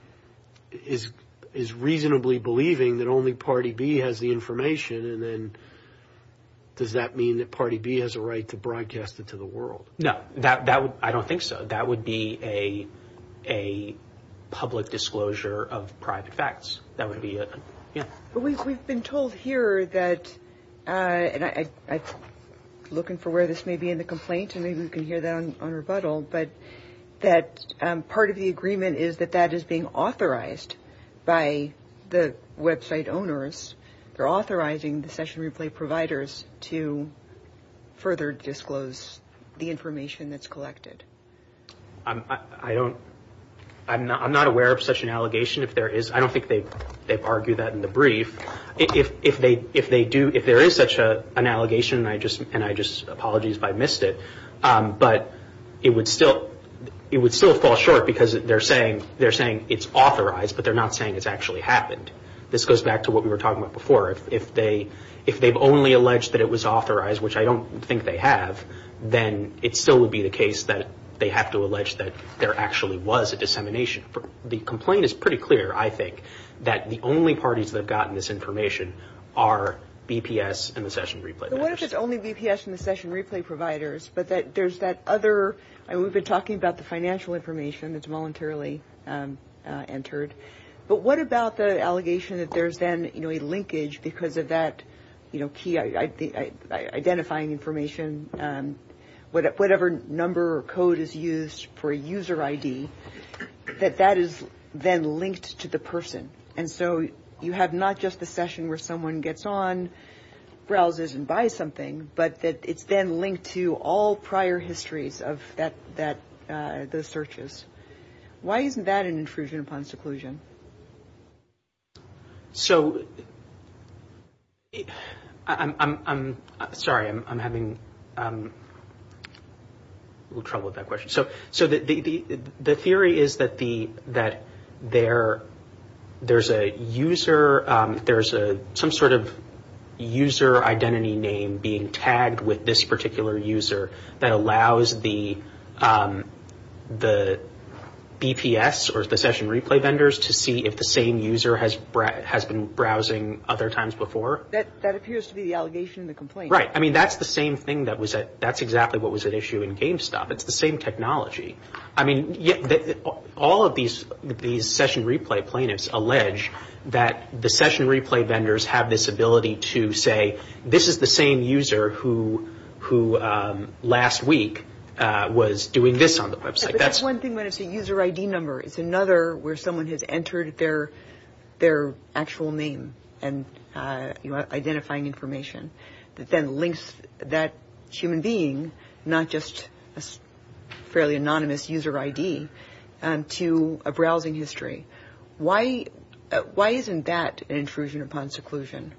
A is reasonably believing that only party B has the information and then does that mean that party B has a right to broadcast it to the world? No, I don't think so. That would be a public disclosure of private facts. That would be... We've been told here that... I'm looking for where this may be in the complaint and maybe we can hear that on rebuttal, but that part of the agreement is that that is being authorized by the website owners. They're authorizing the session replay providers to further disclose the information that's collected. I don't... I'm not aware of such an allegation. I don't think they've argued that in the brief. If there is such an allegation, and I just... Apologies if I missed it, but it would still fall short because they're saying it's authorized, but they're not saying it's actually happened. This goes back to what we were talking about before. If they've only alleged that it was authorized, which I don't think they have, then it still would be the case that they have to allege that there actually was a dissemination. The complaint is pretty clear, I think, that the only parties that have gotten this information are BPS and the session replay providers. What if it's only BPS and the session replay providers, but there's that other... We've been talking about the financial information that's voluntarily entered, but what about the allegation that there's then a linkage because of that key identifying information, whatever number or code is used for a user ID, that that is then linked to the person? And so you have not just the session where someone gets on, browses and buys something, but that it's then linked to all prior histories of those searches. Why isn't that an intrusion upon seclusion? So... I'm sorry, I'm having a little trouble with that question. So the theory is that there's a user... there's some sort of user identity name being tagged with this particular user that allows the BPS or the session replay vendors to see if the same user has been browsing other times before. That appears to be the allegation in the complaint. Right. I mean, that's the same thing that was at... that's exactly what was at issue in GameStop. It's the same technology. I mean, all of these session replay plaintiffs allege that the session replay vendors have this ability to say, this is the same user who last week was doing this on the website. That's one thing when it's a user ID number. It's another where someone has entered their actual name and identifying information that then links that human being, not just a fairly anonymous user ID, to a browsing history. Why isn't that an intrusion upon seclusion?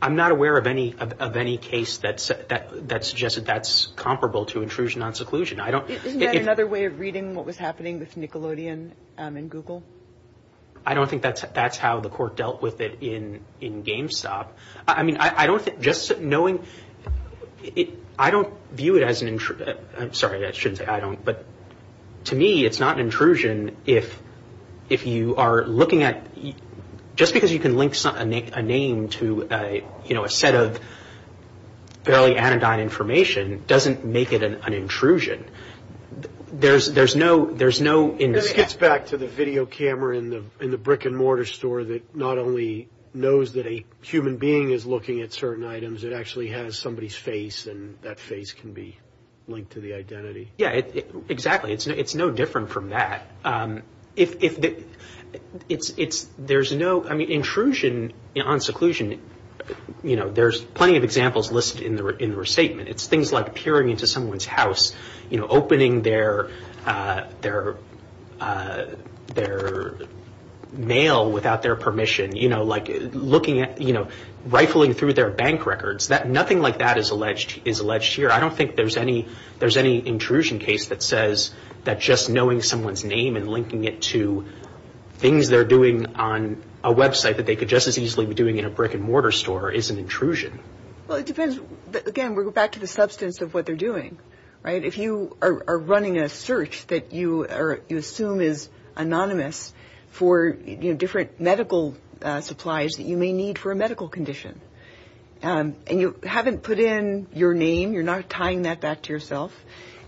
I'm not aware of any case that suggested that's comparable to intrusion on seclusion. Isn't that another way of reading what was happening with Nickelodeon and Google? I don't think that's how the court dealt with it in GameStop. I mean, I don't think just knowing... I don't view it as an... I'm sorry, I shouldn't say I don't, but to me, it's not an intrusion if you are looking at... Just because you can link a name to a set of fairly anodyne information doesn't make it an intrusion. There's no... It gets back to the video camera in the brick-and-mortar store that not only knows that a human being is looking at certain items, it actually has somebody's face, and that face can be linked to the identity. Yeah, exactly. It's no different from that. It's... There's no... Intrusion on seclusion, there's plenty of examples listed in the restatement. It's things like peering into someone's house, opening their mail without their permission, like looking at... Rifling through their bank records. Nothing like that is alleged here. I don't think there's any intrusion case that says that just knowing someone's name and linking it to things they're doing on a website that they could just as easily be doing in a brick-and-mortar store is an intrusion. Well, it depends. Again, we'll go back to the substance of what they're doing. If you are running a search that you assume is anonymous for different medical supplies that you may need for a medical condition, and you haven't put in your name, you're not tying that back to yourself,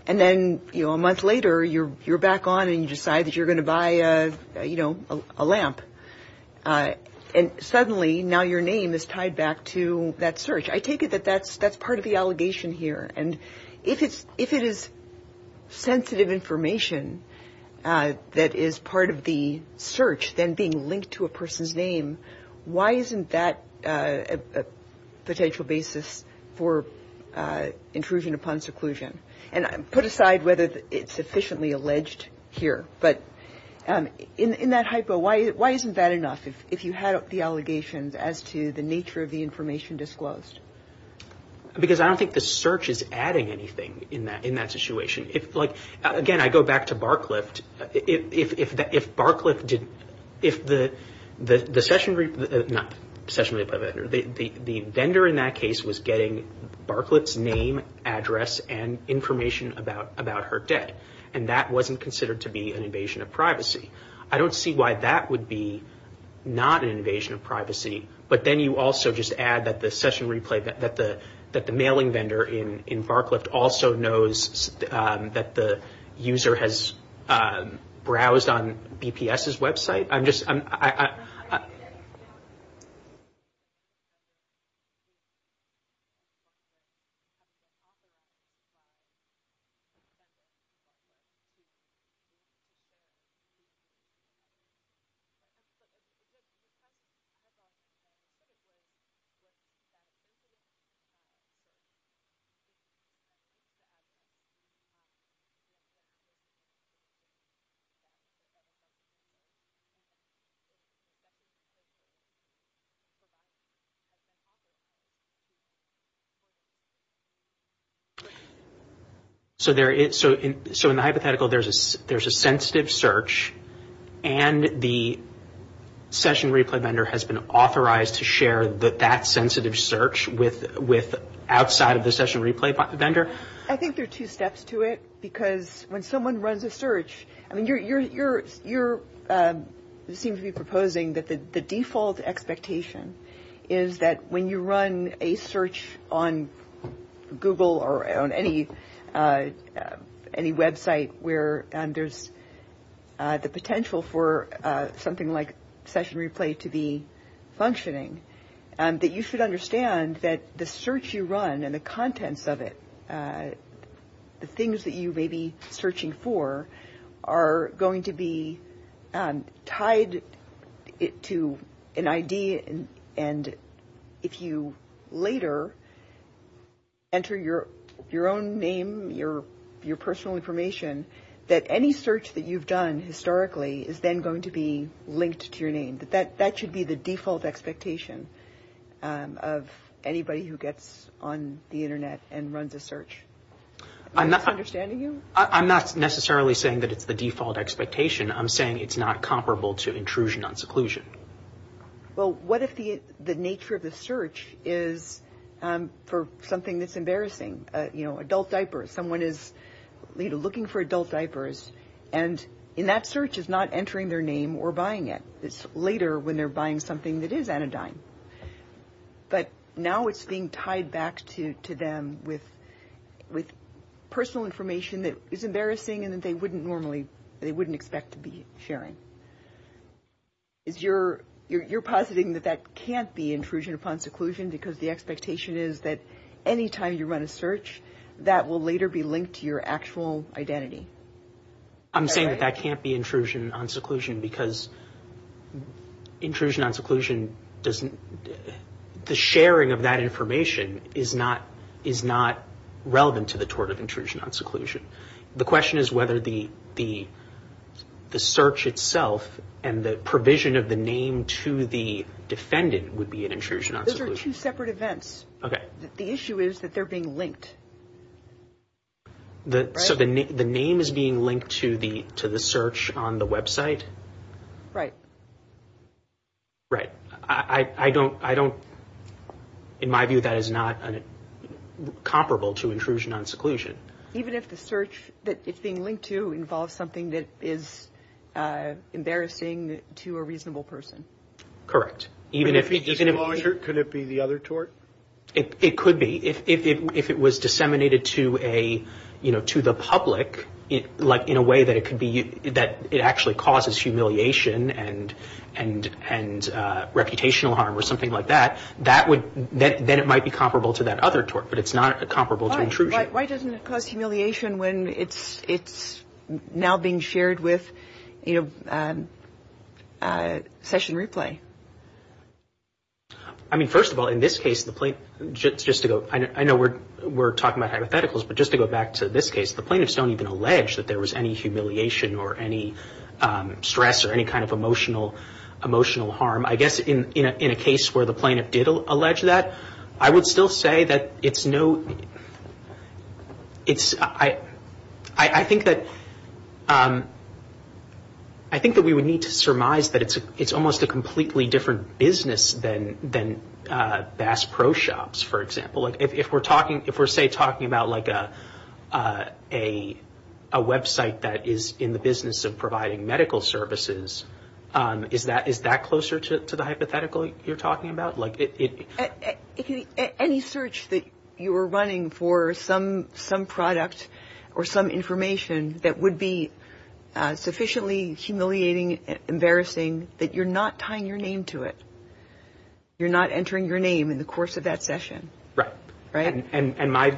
and then a month later you're back on and you decide that you're going to buy a lamp, and suddenly now your name is tied back to that search. I take it that that's part of the allegation here, and if it is sensitive information that is part of the search then being linked to a person's name, why isn't that a potential basis for intrusion upon seclusion? And put aside whether it's sufficiently alleged here, but in that hypo, why isn't that enough if you have the allegations as to the nature of the information disclosed? Because I don't think the search is adding anything in that situation. Like, again, I go back to Barclift. If Barclift did... If the session... Not session... The vendor in that case was getting Barclift's name, address, and information about her debt, and that wasn't considered to be an invasion of privacy. I don't see why that would be not an invasion of privacy, but then you also just add that the session replay, that the mailing vendor in Barclift also knows that the user has browsed on BPS's website. I'm just... I'm just... So there is... So in the hypothetical, there's a sensitive search, and the session replay vendor has been authorized to share that sensitive search outside of the session replay vendor. I think there are two steps to it, because when someone runs a search... I mean, you're... You seem to be proposing that the default expectation is that when you run a search on Google or on any website where there's the potential for something like session replay to be functioning, that you should understand that the search you run and the contents of it, the things that you may be searching for, are going to be tied to an ID, and if you later enter your own name, your personal information, that any search that you've done historically is then going to be linked to your name. That should be the default expectation of anybody who gets on the Internet and runs a search. Am I understanding you? I'm not necessarily saying that it's the default expectation. I'm saying it's not comparable to intrusion on seclusion. Well, what if the nature of the search is for something that's embarrassing? You know, adult diapers. Someone is looking for adult diapers, and in that search is not entering their name or buying it. It's later when they're buying something that is anodyne. But now it's being tied back to them with personal information that is embarrassing and that they wouldn't normally expect to be sharing. You're positing that that can't be intrusion upon seclusion because the expectation is that any time you run a search, that will later be linked to your actual identity. I'm saying that that can't be intrusion upon seclusion because intrusion on seclusion doesn't... The sharing of that information is not relevant to the tort of intrusion on seclusion. The question is whether the search itself and the provision of the name to the defendant would be an intrusion on seclusion. Those are two separate events. Okay. The issue is that they're being linked. So the name is being linked to the search on the website? Right. Right. I don't... In my view, that is not comparable to intrusion on seclusion. Even if the search that it's being linked to involves something that is embarrassing to a reasonable person? Correct. Could it be the other tort? It could be. If it was disseminated to the public, in a way that it actually causes humiliation and reputational harm or something like that, then it might be comparable to that other tort, but it's not comparable to intrusion. Why doesn't it cause humiliation when it's now being shared with session replay? I mean, first of all, in this case, just to go... I know we're talking about hypotheticals, but just to go back to this case, the plaintiffs don't even allege that there was any humiliation or any stress or any kind of emotional harm. I guess in a case where the plaintiff did allege that, I would still say that it's no... It's... I think that... I think that we would need to surmise that it's almost a completely different business than Bass Pro Shops, for example. If we're talking... If we're, say, talking about, like, a website that is in the business of providing medical services, is that closer to the hypothetical you're talking about? Any search that you were running for some product or some information that would be sufficiently humiliating, embarrassing, that you're not tying your name to it. You're not entering your name in the course of that session. Right. Right?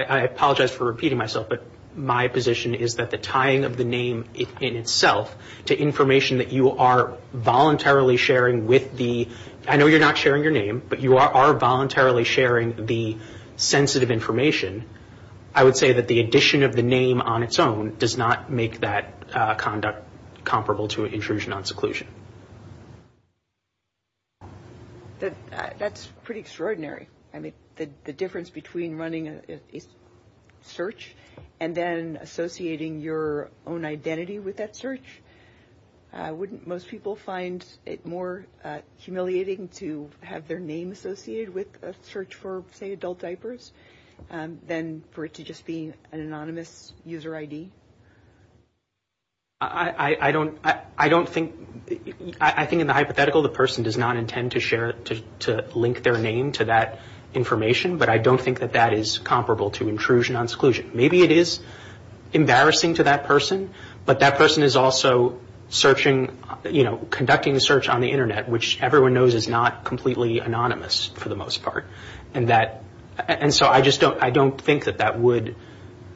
I apologize for repeating myself, but my position is that the tying of the name in itself to information that you are voluntarily sharing with the... I know you're not sharing your name, but you are voluntarily sharing the sensitive information. I would say that the addition of the name on its own does not make that conduct comparable to an intrusion on seclusion. That's pretty extraordinary. I mean, the difference between running a search and then associating your own identity with that search, wouldn't most people find it more humiliating to have their name associated with a search for, say, adult diapers than for it to just be an anonymous user ID? I don't think... I think in the hypothetical, the person does not intend to share... to link their name to that information, but I don't think that that is comparable to intrusion on seclusion. Maybe it is embarrassing to that person, but that person is also conducting a search on the Internet, which everyone knows is not completely anonymous for the most part. And so I just don't think that that would...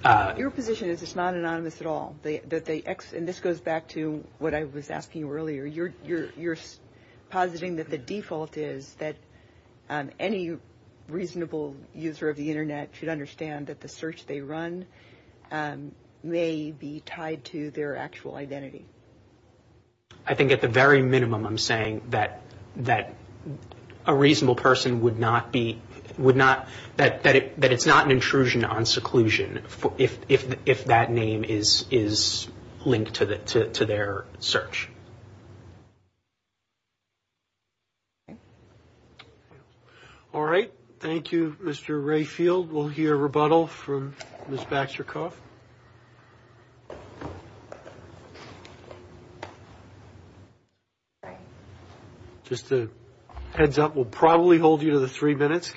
Your position is it's not anonymous at all. And this goes back to what I was asking earlier. You're positing that the default is that any reasonable user of the Internet should understand that the search they run may be tied to their actual identity. I think at the very minimum I'm saying that a reasonable person would not be... that it's not an intrusion on seclusion if that name is linked to their search. All right. Thank you, Mr. Rayfield. We'll hear rebuttal from Ms. Baxter-Kauf. Just a heads up, we'll probably hold you to the three minutes.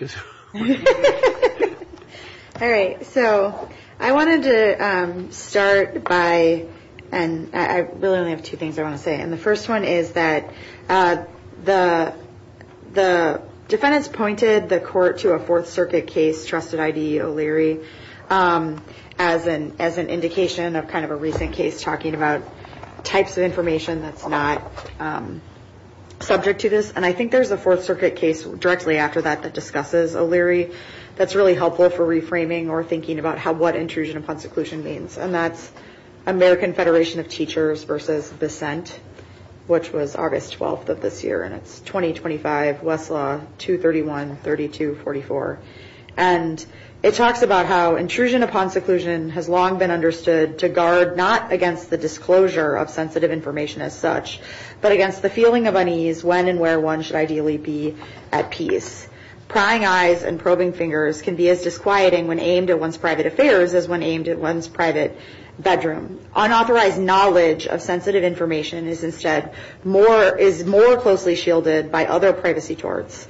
All right. So I wanted to start by... I really only have two things I want to say. And the first one is that the defendants pointed the court to a Fourth Circuit case, Trusted I.D. O'Leary, as an indication of kind of a recent case talking about types of information that's not subject to this. And I think there's a Fourth Circuit case directly after that that discusses O'Leary that's really helpful for reframing or thinking about what intrusion upon seclusion means. And that's American Federation of Teachers versus dissent, which was August 12th of this year, and it's 2025, Westlaw, 231, 32, 44. And it talks about how intrusion upon seclusion has long been understood to guard not against the disclosure of sensitive information as such, but against the feeling of unease when and where one should ideally be at peace. Prying eyes and probing fingers can be as disquieting when aimed at one's private affairs as when aimed at one's private bedroom. Unauthorized knowledge of sensitive information is instead more closely shielded by other privacy torts,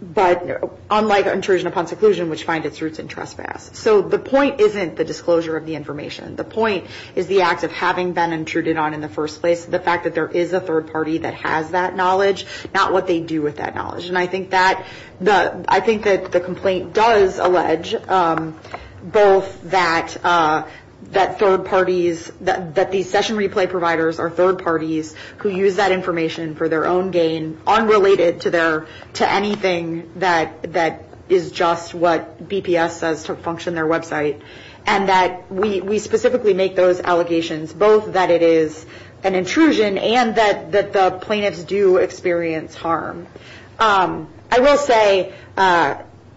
but unlike intrusion upon seclusion, which finds its roots in trespass. So the point isn't the disclosure of the information. The point is the act of having been intruded on in the first place, the fact that there is a third party that has that knowledge, not what they do with that knowledge. And I think that the complaint does allege both that these session replay providers are third parties who use that information for their own gain, unrelated to anything that is just what DPS says to function their website, and that we specifically make those allegations, both that it is an intrusion and that the plaintiffs do experience harm. I will say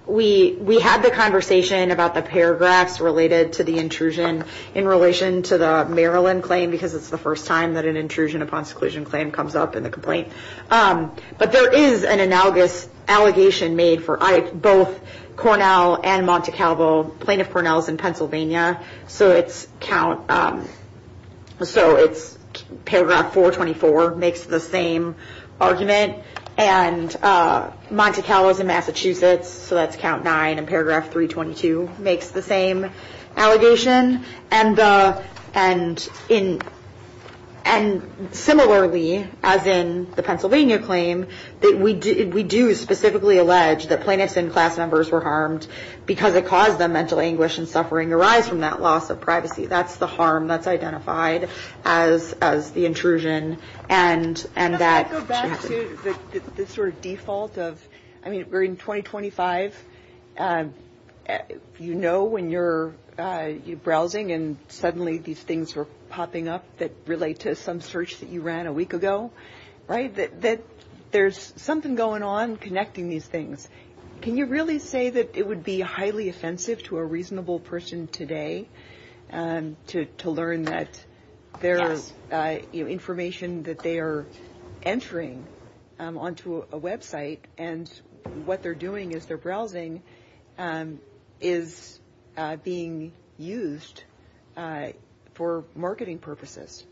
we had the conversation about the paragraphs related to the intrusion in relation to the Maryland claim because it's the first time that an intrusion upon seclusion claim comes up in a complaint. But there is an analogous allegation made for ICE, both Cornell and Monte Calvo, plaintiff Cornell is in Pennsylvania, so it's paragraph 424, makes the same argument. And Monte Calvo is in Massachusetts, so that's count 9 in paragraph 322, makes the same allegation. And similarly, as in the Pennsylvania claim, we do specifically allege that plaintiffs and class members were harmed because it caused them mental anguish and suffering arising from that loss of privacy. That's the harm that's identified as the intrusion. Can I go back to the sort of default of, I mean, we're in 2025, you know when you're browsing and suddenly these things are popping up that relate to some search that you ran a week ago, right? That there's something going on connecting these things. Can you really say that it would be highly offensive to a reasonable person today to learn that their information that they are entering onto a website and what they're doing as they're browsing is being used for marketing purposes?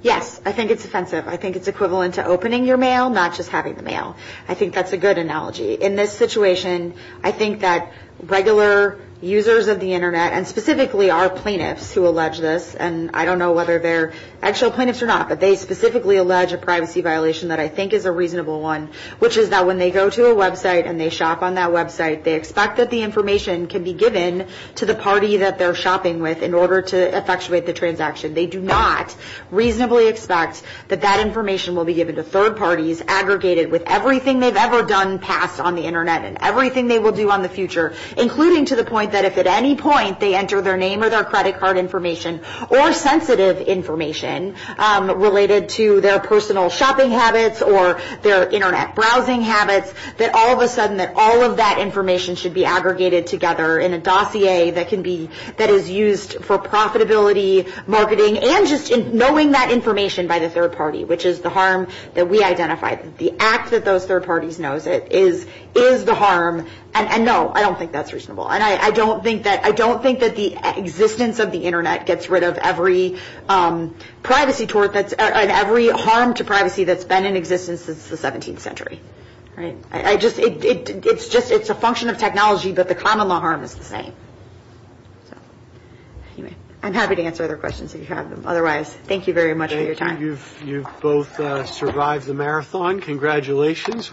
Yes, I think it's offensive. I think it's equivalent to opening your mail, not just having the mail. I think that's a good analogy. In this situation, I think that regular users of the Internet and specifically our plaintiffs who allege this, and I don't know whether they're actual plaintiffs or not, but they specifically allege a privacy violation that I think is a reasonable one, which is that when they go to a website and they shop on that website, they expect that the information can be given to the party that they're shopping with in order to effectuate the transaction. They do not reasonably expect that that information will be given to third parties when it's aggregated with everything they've ever done past on the Internet and everything they will do on the future, including to the point that if at any point they enter their name or their credit card information or sensitive information related to their personal shopping habits or their Internet browsing habits, that all of a sudden all of that information should be aggregated together in a dossier that is used for profitability, marketing, and just knowing that information by the third party, which is the harm that we identify. The act that those third parties know is the harm, and no, I don't think that's reasonable, and I don't think that the existence of the Internet gets rid of every harm to privacy that's been in existence since the 17th century. It's a function of technology, but the common law harm is the same. I'm happy to answer other questions if you have them. Otherwise, thank you very much for your time. I'm sure you've both survived the marathon. Congratulations.